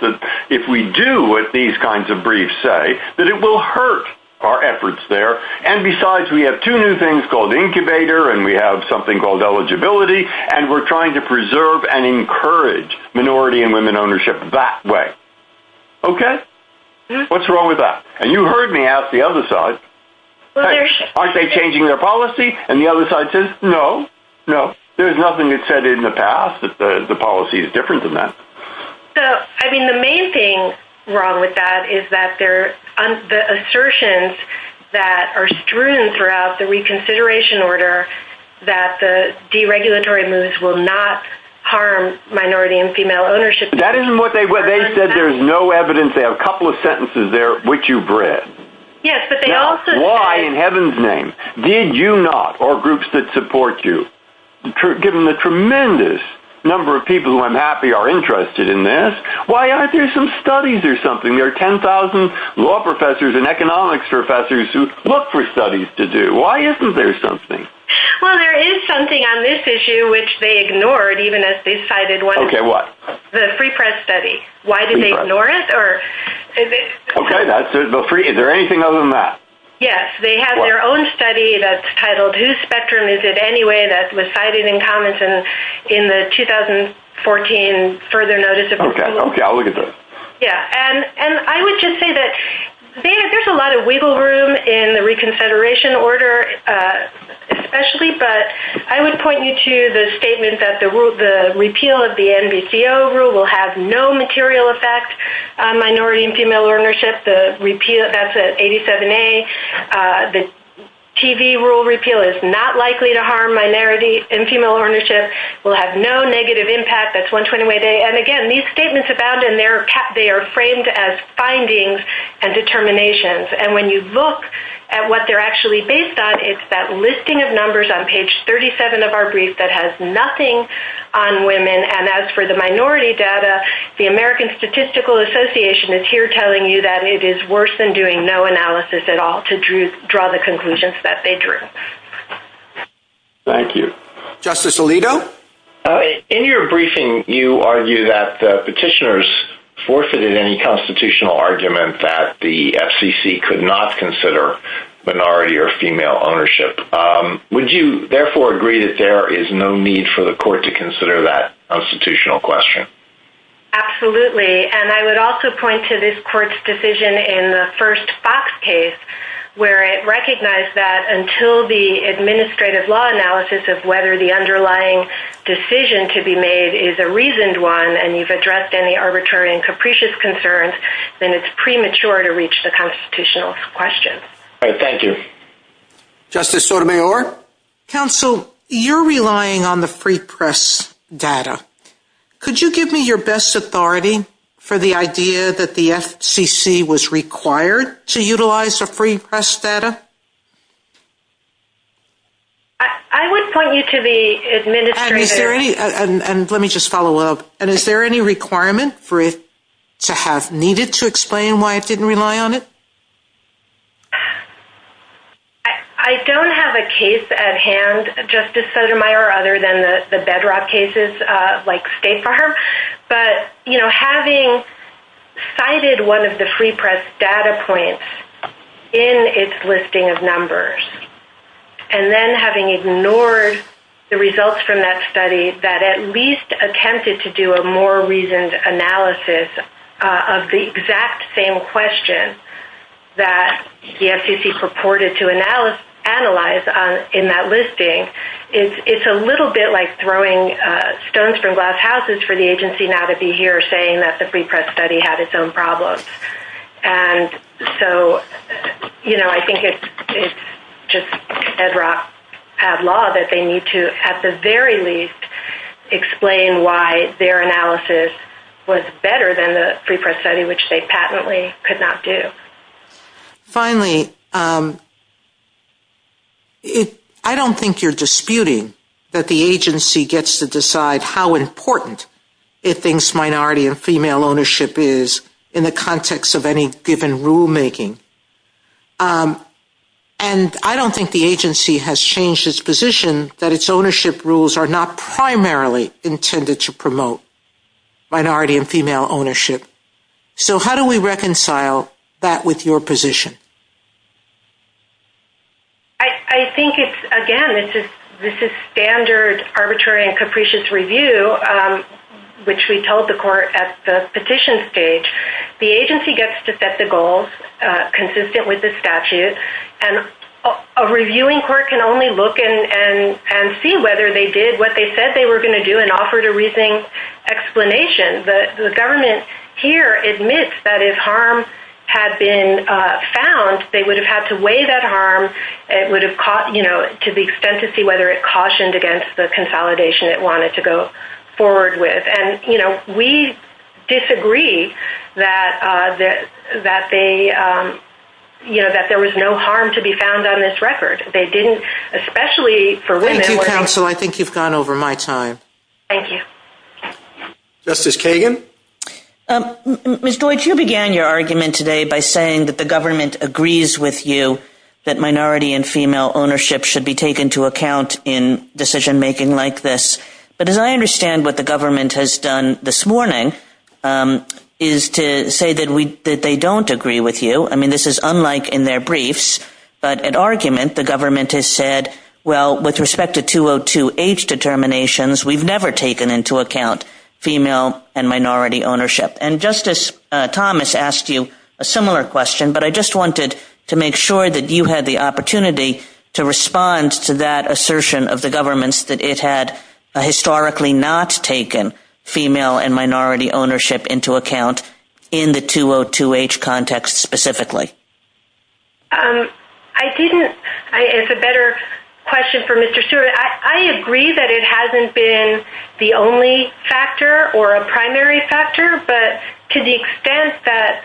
if we do what these kinds of briefs say, that it will hurt our efforts there, and besides, we have two new things called incubator, and we have something called eligibility, and we're trying to preserve and encourage minority and women ownership that way. Okay? What's wrong with that? And you heard me ask the other side, aren't they changing their policy? And the other side says, no, no, there's nothing that's said in the past that the policy is different than that. So, I mean, the main thing wrong with that is that the assertions that are strewn throughout the reconsideration order that the deregulatory moves will not harm minority and female ownership. That isn't what they said. They said there's no evidence. They have a couple of sentences there which you've read. Yes, but they also- Why in heaven's name did you not, or groups that support you, given the tremendous number of people who I'm happy are interested in this, why aren't there some studies or something? There are 10,000 law professors and economics professors who look for studies to do. Why isn't there something? Well, there is something on this issue which they ignored even as they cited one- Okay, what? The free press study. Why did they ignore it? Okay, that's it. Is there anything other than that? Yes, they have their own study that's titled Whose Spectrum Is It Anyway that was cited in comments in the 2014 further notice of- Okay, I'll look at this. Yeah, and I would just say that there's a lot of wiggle room in the reconsideration order especially, but I would point you to the statement that the repeal of the NBCO rule will have no the TV rule repeal is not likely to harm minority and female ownership. We'll have no negative impact. That's one 20-way day. And again, these statements abound and they are framed as findings and determinations. And when you look at what they're actually based on, it's that listing of numbers on page 37 of our brief that has nothing on women. And as for the minority data, the American Statistical Association is here telling you that it is worse than no analysis at all to draw the conclusions that they drew. Thank you. Justice Alito? In your briefing, you argue that the petitioners forfeited any constitutional argument that the FCC could not consider minority or female ownership. Would you therefore agree that there is no need for the court to consider that constitutional question? Absolutely. And I would also point to this court's decision in the first box case, where it recognized that until the administrative law analysis of whether the underlying decision to be made is a reasoned one and you've addressed any arbitrary and capricious concerns, then it's premature to reach the constitutional question. All right. Thank you. Justice Sotomayor? Counsel, you're relying on the free press data. Could you give me your best authority for the idea that the FCC was required to utilize the free press data? I would point you to the administrative... And let me just follow up. And is there any requirement for it to have needed to explain why it didn't rely on it? I don't have a case at hand, Justice Sotomayor, other than the bedrock cases like State Farm. But, you know, having cited one of the free press data points in its listing of numbers, and then having ignored the results from that study that at least attempted to do a more reasoned analysis of the exact same question that the FCC purported to analyze in that listing, it's a little bit like throwing stones from glass houses for the agency now to be here saying that the free press study had its own problems. And so, you know, I think it's just bedrock have law that they need to, at the very least, explain why their analysis was better than the free press study, which they patently could not do. Finally, I don't think you're disputing that the agency gets to decide how important it thinks minority and female ownership is in the context of any given rulemaking. And I don't think the agency has changed its position that its ownership rules are not primarily intended to promote minority and female ownership. So how do we reconcile that with your position? I think it's, again, this is standard arbitrary and capricious review, which we told the court at the petition stage. The agency gets to set the goals consistent with the statute, and a reviewing court can only look and see whether they did what they said they were going to do and offered a reasoning explanation. The government here admits that if harm had been found, they would have had to weigh that harm. It would have, you know, to the extent to see whether it cautioned against the consolidation it wanted to go forward with. And, you know, we disagree that there was no harm to be found on this record. They didn't, especially for women. Thank you, counsel. I think you've gone over my time. Thank you. Justice Kagan? Ms. Deutch, you began your argument today by saying that the government agrees with you that minority and female ownership should be taken into account in decision making like this. But as I understand what the government has done this morning is to say that they don't agree with you. I mean, this is unlike in their briefs, but in argument, the government has said, well, with respect to 202H determinations, we've never taken into account female and minority ownership. And Justice Thomas asked you a similar question, but I just wanted to make sure that you had the opportunity to respond to that assertion of the government's that it had historically not taken female and minority ownership into account in the 202H context specifically. I didn't. It's a better question for Mr. Stewart. I agree that it hasn't been the only factor or a to the extent that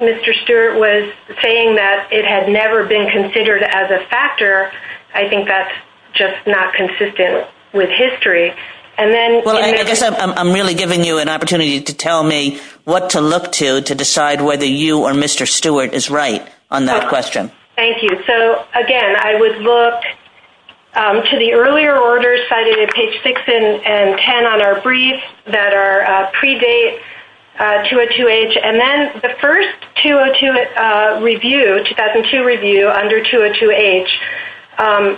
Mr. Stewart was saying that it had never been considered as a factor. I think that's just not consistent with history. And then I'm really giving you an opportunity to tell me what to look to, to decide whether you or Mr. Stewart is right on that question. Thank you. So again, I would look to the earlier orders cited at page 6 and 10 on our briefs that are pre-date 202H. And then the first 202 review, 2002 review under 202H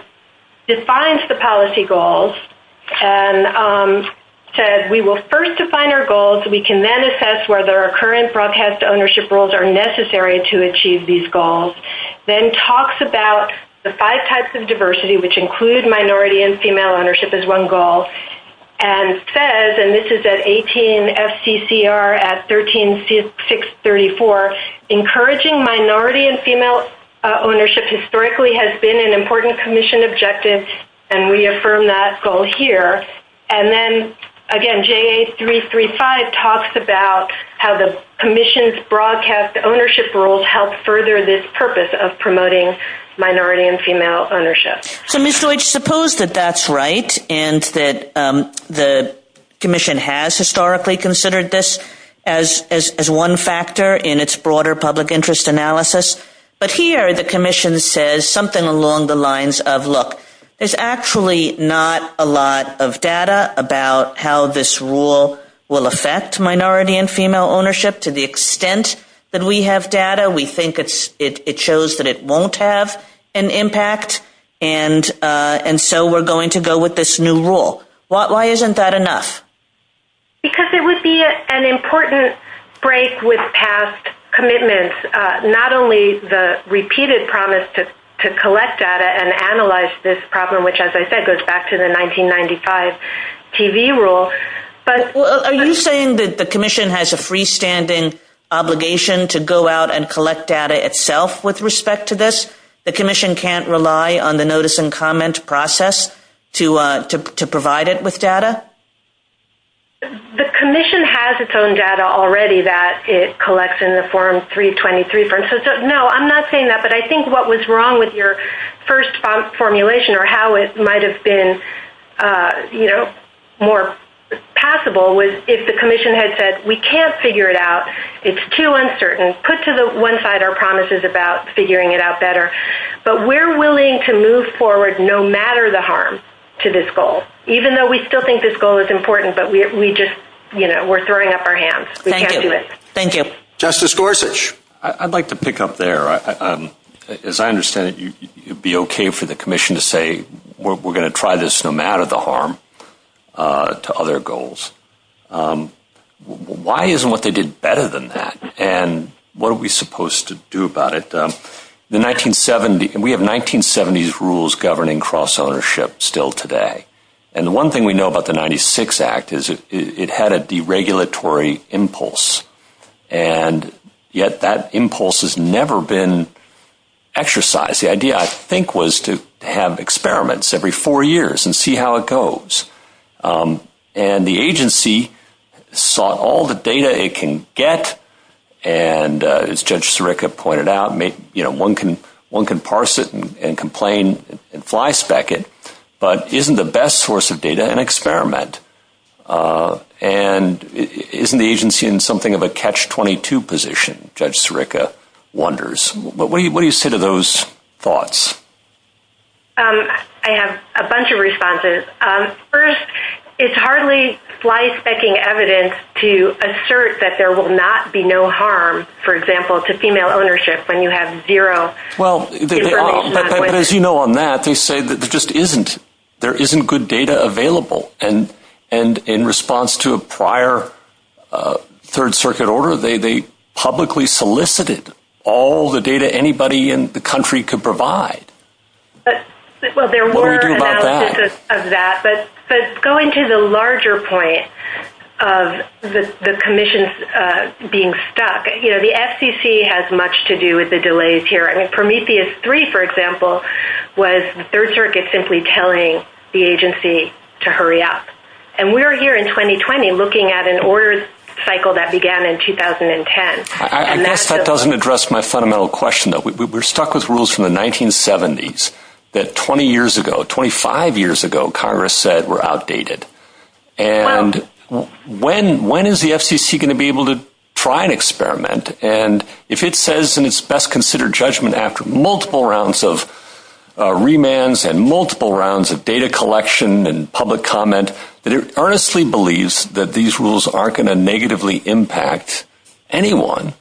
defines the policy goals and said, we will first define our goals so we can then assess whether our current broadcast ownership rules are necessary to achieve these goals. Then talks about the five types of diversity, which include minority and female ownership as one goal and says, and this is at 18 FCCR at 13634, encouraging minority and female ownership historically has been an important commission objective. And we affirm that goal here. And then again, JA 335 talks about how the commission's broadcast ownership rules help further this purpose of promoting minority and female ownership. So I suppose that that's right. And that the commission has historically considered this as, as, as one factor in its broader public interest analysis. But here the commission says something along the lines of, look, it's actually not a lot of data about how this rule will affect minority and female ownership to the extent that we have data. We think it's, it shows that it won't have an impact and and so we're going to go with this new rule. Why isn't that enough? Because it would be an important break with past commitments. Not only the repeated promise to collect data and analyze this problem, which as I said, goes back to the 1995 TV rule. Are you saying that the commission has a freestanding obligation to go out and collect data itself with respect to this? The commission can't rely on the notice and comment process to provide it with data? The commission has its own data already that it collects in the form 323. So no, I'm not saying that, but I think what was wrong with your first formulation or how it might've been, you know, more passable was if the commission had said, we can't figure it out. It's too uncertain. Put to the one side our promises about figuring it out better, but we're willing to move forward no matter the harm to this goal, even though we still think this goal is important, but we just, you know, we're throwing up our hands. We can't do it. Thank you. Justice Gorsuch, I'd like to pick up there. As I understand it, you'd be okay for the commission to say, we're going to try this no matter the harm to other goals. Um, why isn't what they did better than that? And what are we supposed to do about it? Um, the 1970, we have 1970s rules governing cross ownership still today. And the one thing we know about the 96 act is it, it had a deregulatory impulse and yet that impulse has never been exercised. The idea I think was to have experiments every four years and see how it goes. Um, and the agency saw all the data it can get. And, uh, as Judge Sirica pointed out, make, you know, one can, one can parse it and complain and fly spec it, but isn't the best source of data and experiment, uh, and isn't the agency in something of a catch 22 position, Judge Sirica wonders, but what do you, what do you say to those thoughts? Um, I have a bunch of responses. Um, first it's hardly fly specking evidence to assert that there will not be no harm, for example, to female ownership when you have zero. Well, but as you know, on that, they say that there just isn't, there isn't good data available. And, and in response to a prior, uh, third circuit order, they, they publicly solicited all the data anybody in the country could provide. Well, there were of that, but, but going to the larger point of the commission, uh, being stuck, you know, the FCC has much to do with the delays here. I mean, Prometheus three, for example, was third circuit simply telling the agency to hurry up. And we're here in 2020 looking at an cycle that began in 2010. That doesn't address my fundamental question that we were stuck with rules from the 1970s that 20 years ago, 25 years ago, Congress said were outdated. And when, when is the FCC going to be able to try and experiment? And if it says, and it's best considered judgment after multiple rounds of remands and multiple rounds of data collection and public comment, but it earnestly believes that these rules are going to negatively impact anyone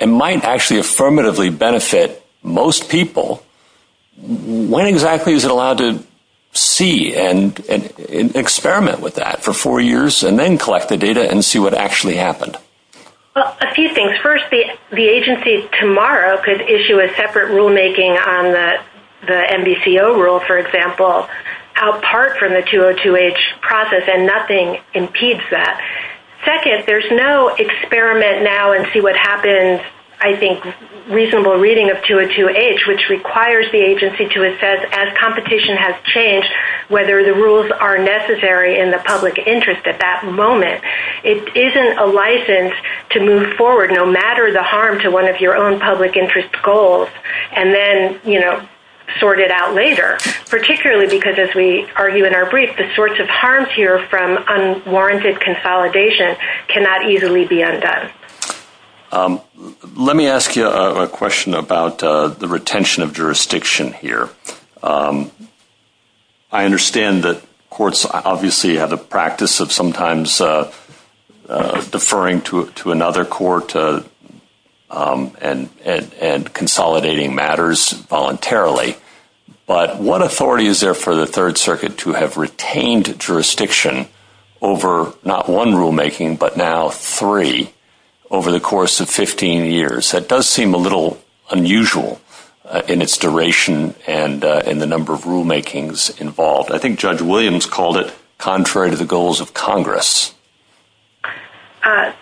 and might actually affirmatively benefit most people. When exactly is it allowed to see and experiment with that for four years and then collect the data and see what actually happened? Well, a few things first, the, the agency tomorrow could issue a separate rulemaking on the, the NBCO rule, for example, out part from the 202H process and nothing impedes that. Second, there's no experiment now and see what happens. I think reasonable reading of 202H, which requires the agency to assess as competition has changed, whether the rules are necessary in the public interest at that moment. It isn't a license to move forward, no matter the harm to one of your own public interest goals. And then, you know, sort it out later, particularly because as we argue in our brief, the sorts of harms here from unwarranted consolidation cannot easily be undone. Let me ask you a question about the retention of jurisdiction here. I understand that courts obviously have the practice of sometimes deferring to another court and consolidating matters voluntarily, but what authority is there for the third circuit to have retained jurisdiction over not one rulemaking, but now three over the course of 15 years? That does seem a little unusual in its duration and in the number of rulemakings involved. I think Judge Williams called it contrary to the goals of Congress.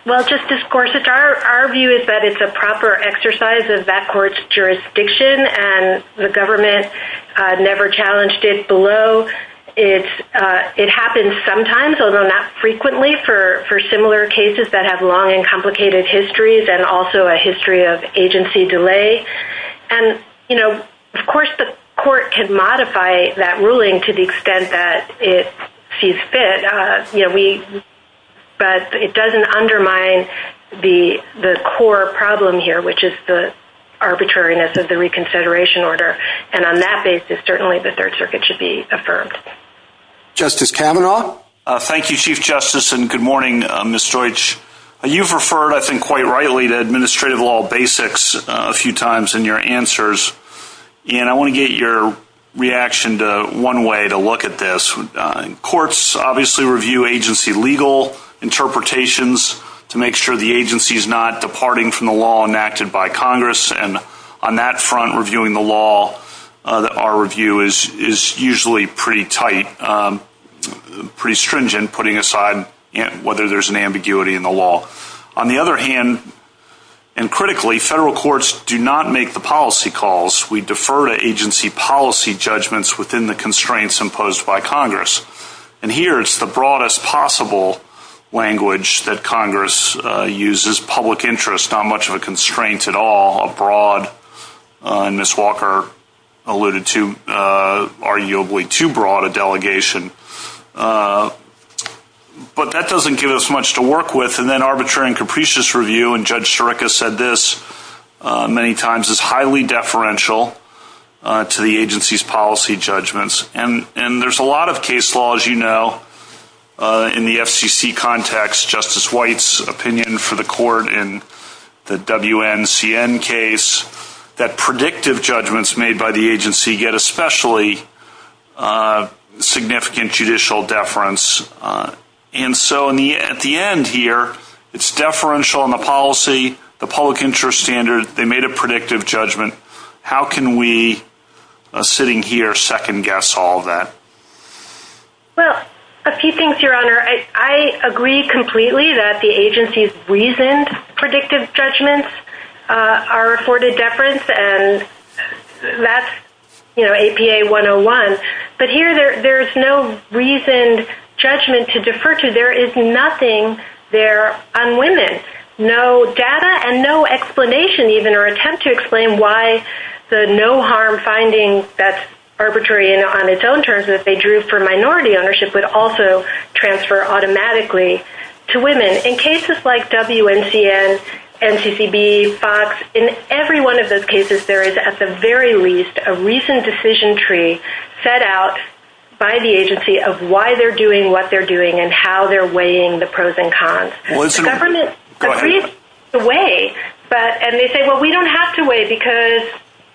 Well, Justice Gorsuch, our view is that it's a proper exercise of that court's jurisdiction and the government never challenged it below. It happens sometimes, although not frequently, for similar cases that have long and complicated histories and also a history of agency delay. And, you know, of course the court can modify that ruling to the extent that it sees fit, but it doesn't undermine the core problem here, which is the arbitrariness of the reconsideration order. And on that basis, certainly the third circuit should be affirmed. Justice Kavanaugh? Thank you, Chief Justice, and good morning, Ms. Deutsch. You've referred, I think quite rightly, to administrative law basics a few times in your answers, and I want to get your reaction to one way to look at this. Courts obviously review agency legal interpretations to make sure the agency's not departing from the law enacted by Congress, and on that front, reviewing the law, our review is usually pretty tight, pretty stringent, putting aside whether there's ambiguity in the law. On the other hand, and critically, federal courts do not make the policy calls. We defer to agency policy judgments within the constraints imposed by Congress, and here it's the broadest possible language that Congress uses, public interest, not much of a constraint at all, a broad, and Ms. Walker alluded to, arguably too broad a delegation, but that doesn't give us much to work with, and then arbitrary and capricious review, and Judge Sciarica said this many times, is highly deferential to the agency's policy judgments, and there's a lot of case laws, you know, in the FCC context, Justice White's opinion for the court in the WNCN case, that predictive judgments made by the agency get especially a significant judicial deference, and so at the end here, it's deferential in the policy, the public interest standard, they made a predictive judgment. How can we, sitting here, second guess all that? Well, a few things, Your Honor. I agree completely that the agency's reasoned predictive judgments are afforded deference, and that's, you know, APA 101, but here there's no reasoned judgment to defer to, there is nothing there on women, no data and no explanation even or attempt to explain why the no harm finding that's arbitrary on its own terms that they drew for minority ownership would also transfer automatically to women. In cases like WNCN, NCCB, FOX, in every one of those cases, there is at the very least a reasoned decision tree set out by the agency of why they're doing what they're doing and how they're weighing the pros and cons. The government agrees to weigh, and they say, well, we don't have to weigh because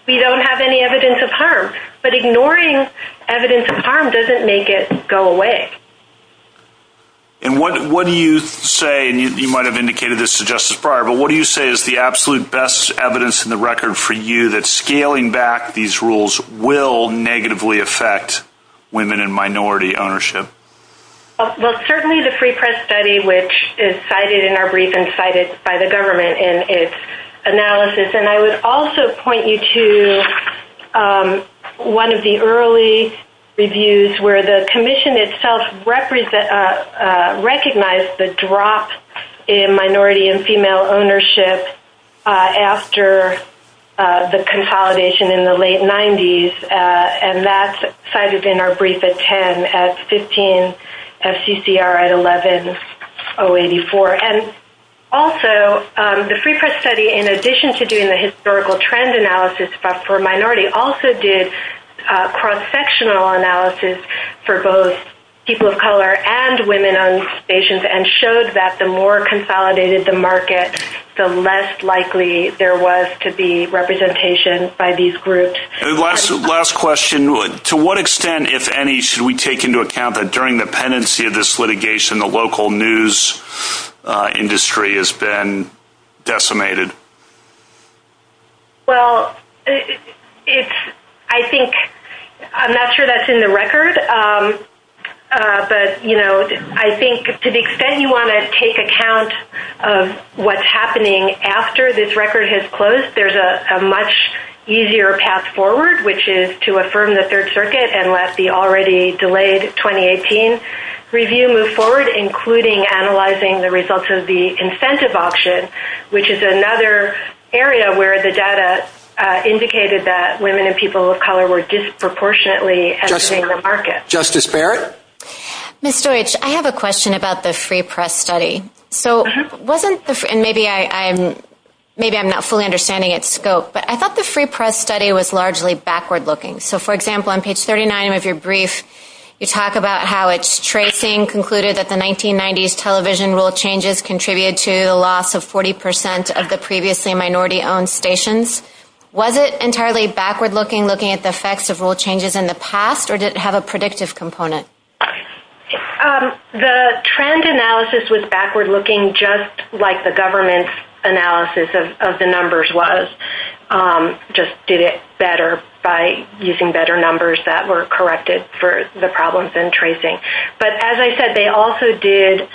we don't have any evidence of harm, but ignoring evidence of harm doesn't make it go away. And what do you say, and you might have indicated this to Justice Breyer, but what do you say is the scaling back these rules will negatively affect women in minority ownership? Well, certainly the free press study, which is cited in our brief and cited by the government in its analysis, and I would also point you to one of the early reviews where the commission itself recognized the drop in minority and female ownership after the consolidation in the late 90s, and that's cited in our brief at 10, at 15, FCCR at 11, 084. And also, the free press study, in addition to doing the historical trend analysis for minority, also did cross-sectional analysis for both people of color and women on stations and showed that the more consolidated the market, the less likely there was to be representation by these groups. Last question, to what extent, if any, should we take into account that during the pendency of this litigation, the local news industry has been decimated? Well, I think, I'm not sure that's in the record, but I think to the extent you want to take account of what's happening after this record has closed, there's a much easier path forward, which is to affirm the Third Circuit and let the already delayed 2018 review move forward, including analyzing the results of the incentive auction, which is another area where the data indicated that women and people of color were disproportionately entering the market. Justice Barrett? Ms. Deutsch, I have a question about the free press study. So, wasn't the, and maybe I'm, maybe I'm not fully understanding its scope, but I thought the free press study was largely backward-looking. So, for example, on page 39 of your brief, you talk about how its tracing concluded that the 1990s television rule changes contributed to the loss of 40 percent of the previously minority-owned stations. Was it entirely backward-looking, looking at the effects of rule changes in the past, or did it have a predictive component? The trend analysis was backward-looking, just like the government's analysis of the numbers was, just did it better by using better numbers that were corrected for the problems in tracing. But as I said, they also did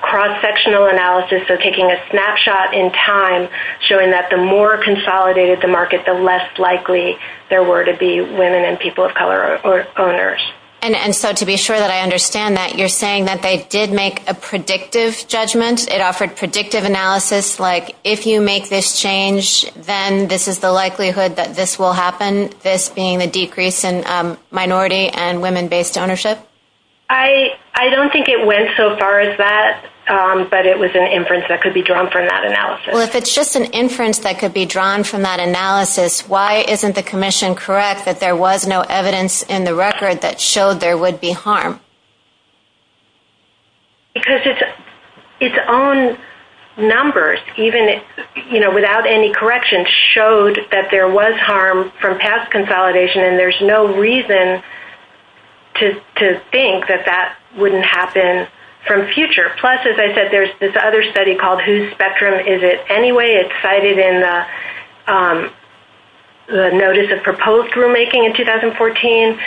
cross-sectional analysis, so taking a snapshot in time, showing that the more consolidated the market, the less likely there were to be women and people of color or owners. And so, to be sure that I understand that, you're saying that they did make a predictive judgment? It offered predictive analysis, like if you make this change, then this is the likelihood that this will happen, this being the decrease in minority and women-based ownership? I don't think it went so far as that, but it was an inference that could be drawn from that analysis. Well, if it's just an inference that could be drawn from that analysis, why isn't the commission correct that there was no evidence in the record that showed there would be harm? Because its own numbers, even without any corrections, showed that there was harm from past consolidation, and there's no reason to think that that wouldn't happen from future. Plus, as I said, there's this other study called Whose Spectrum Is It Anyway? It's cited in the notice of proposed rulemaking in 2014,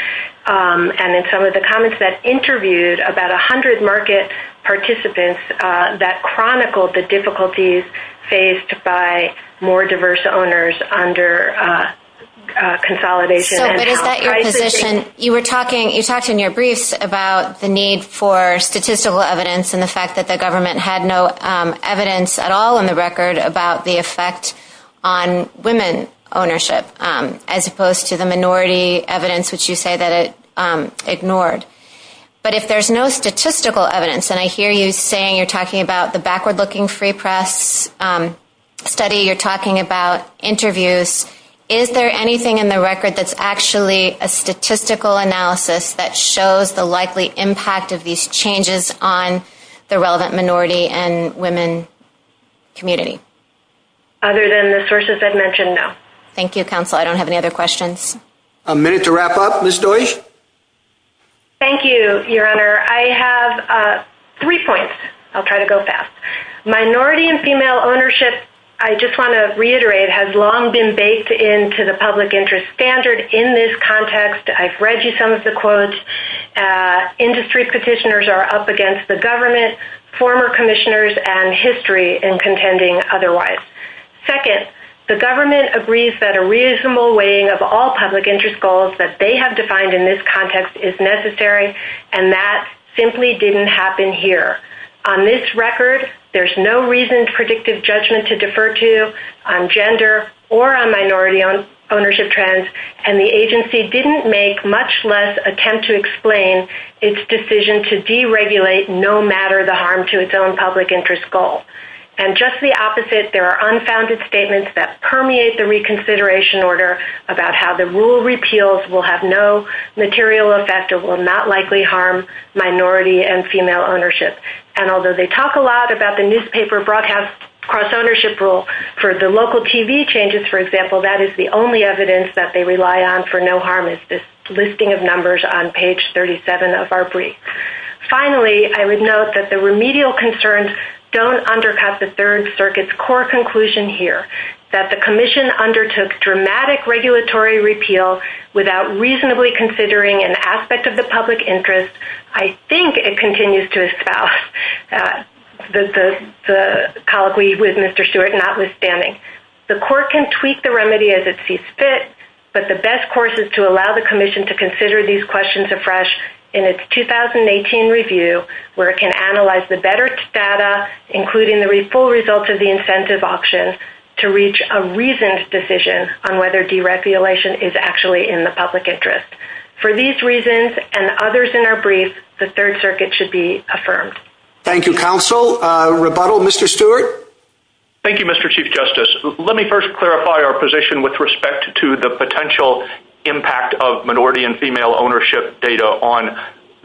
and in some of the comments that interviewed about 100 market participants that chronicled the difficulties faced by more diverse owners under consolidation. You were talking, you talked in your brief about the need for statistical evidence and the fact that the government had no evidence at all in the record about the effect on women ownership, as opposed to the minority evidence, which you say that it ignored. But if there's no statistical evidence, and I hear you saying you're talking about the backward-looking free press study you're talking about, interviews, is there anything in the record that's actually a statistical analysis that shows the likely impact of these changes on the relevant minority and women community? Other than the sources I've mentioned, no. Thank you, Counselor. I don't have any other questions. A minute to wrap up, Ms. Deutch. Thank you, Your Honor. I have three points. I'll try to go fast. Minority and female ownership, I just want to reiterate, has long been baked into the public interest standard in this context. I've read you some of the quotes. Industry petitioners are up against the government, former commissioners, and history in contending otherwise. Second, the government agrees that a reasonable weighing of all public interest goals that they have defined in this context is necessary, and that simply didn't happen here. On this record, there's no reasoned predictive judgment to defer to on gender or on minority ownership trends, and the agency didn't make much less attempt to explain its decision to deregulate no matter the harm to its own public interest goal. And just the opposite, there are unfounded statements that permeate the reconsideration order about how the rule repeals will have no material effect or will not likely harm minority and female ownership. And although they talk a lot about the newspaper broadcast cross-ownership rule for the local TV changes, for example, that is the only evidence that they rely on for no harm is this listing of numbers on page 37 of our brief. Finally, I would note that the remedial concerns don't undercut the Third Circuit's core conclusion here, that the commission undertook dramatic regulatory repeal without reasonably considering an aspect of the public interest. I think it continues to espouse the colloquy with Mr. Stewart notwithstanding. The court can tweak the remedy as it sees fit, but the best course is to allow the commission to consider these questions afresh in its 2018 review, where it can analyze the better data, including the full results of the incentive auction, to reach a reasoned decision on whether deregulation is actually in the public interest. For these reasons and others in our brief, the Third Circuit should be affirmed. Thank you, counsel. Rebuttal, Mr. Stewart? Thank you, Mr. Chief Justice. Let me first clarify our position with respect to the potential impact of minority and female ownership data on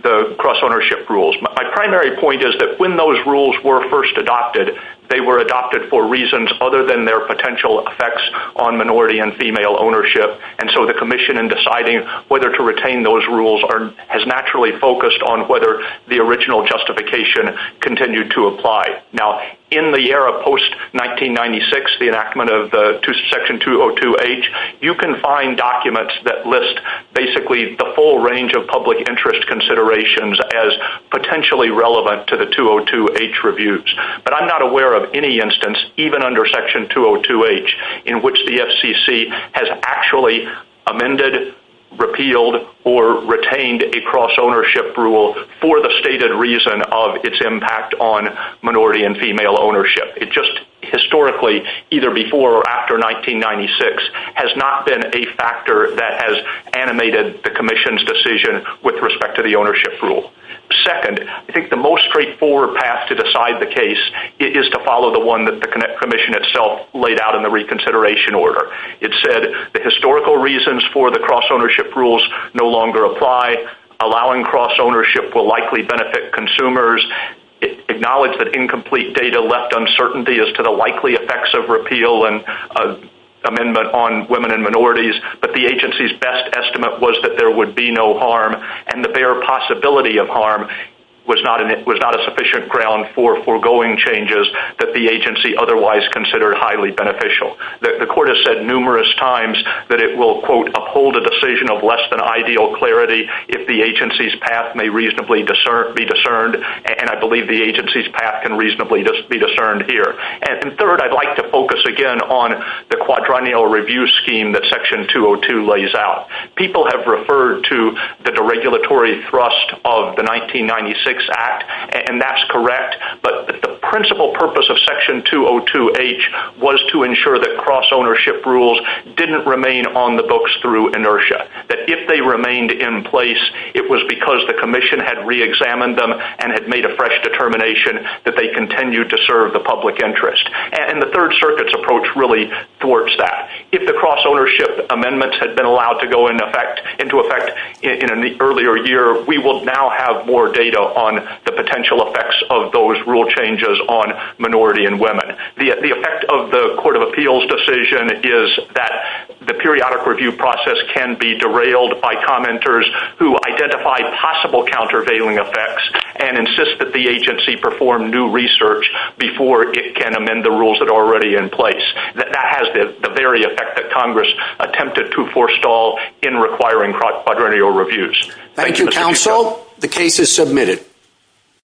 the cross-ownership rules. My primary point is when those rules were first adopted, they were adopted for reasons other than their potential effects on minority and female ownership. And so the commission in deciding whether to retain those rules has naturally focused on whether the original justification continued to apply. Now, in the era post-1996, the enactment of Section 202H, you can find documents that list basically the full range of public interest considerations as potentially relevant to the 202H reviews. But I'm not aware of any instance, even under Section 202H, in which the FCC has actually amended, repealed, or retained a cross-ownership rule for the stated reason of its impact on minority and female ownership. It just historically, either before or after 1996, has not been a factor that has animated the commission's decision with respect to the ownership rule. Second, I think the most straightforward path to decide the case is to follow the one that the commission itself laid out in the reconsideration order. It said the historical reasons for the cross-ownership rules no longer apply. Allowing cross-ownership will likely benefit consumers. Acknowledge that incomplete data left uncertainty as to the likely effects of repeal and amendment on women and minorities. But the agency's best estimate was that there would be no harm, and the bare possibility of harm was not a sufficient ground for foregoing changes that the agency otherwise considered highly beneficial. The court has said numerous times that it will, quote, uphold a decision of less than ideal clarity if the agency's path may reasonably be discerned. And I believe the agency's path can reasonably be discerned here. And third, I'd like to focus again on the quadrennial review scheme that Section 202 lays out. People have referred to the deregulatory thrust of the 1996 Act, and that's correct, but the principal purpose of Section 202H was to ensure that cross-ownership rules didn't remain on the books through inertia. That if they remained in place, it was because the Commission had reexamined them and had made a fresh determination that they continued to serve the public interest. And the Third Circuit's approach really thwarts that. If the cross-ownership amendments had been allowed to go into effect in the earlier year, we will now have more data on the potential effects of those rule changes on minority and women. The effect of the Court of Appeals decision is that the periodic review process can be derailed by commenters who identify possible countervailing effects and insist that the agency perform new research before it can amend the rules that are already in place. That has the very effect that Congress attempted to forestall in requiring quadrennial reviews. Thank you, Counsel. The case is submitted.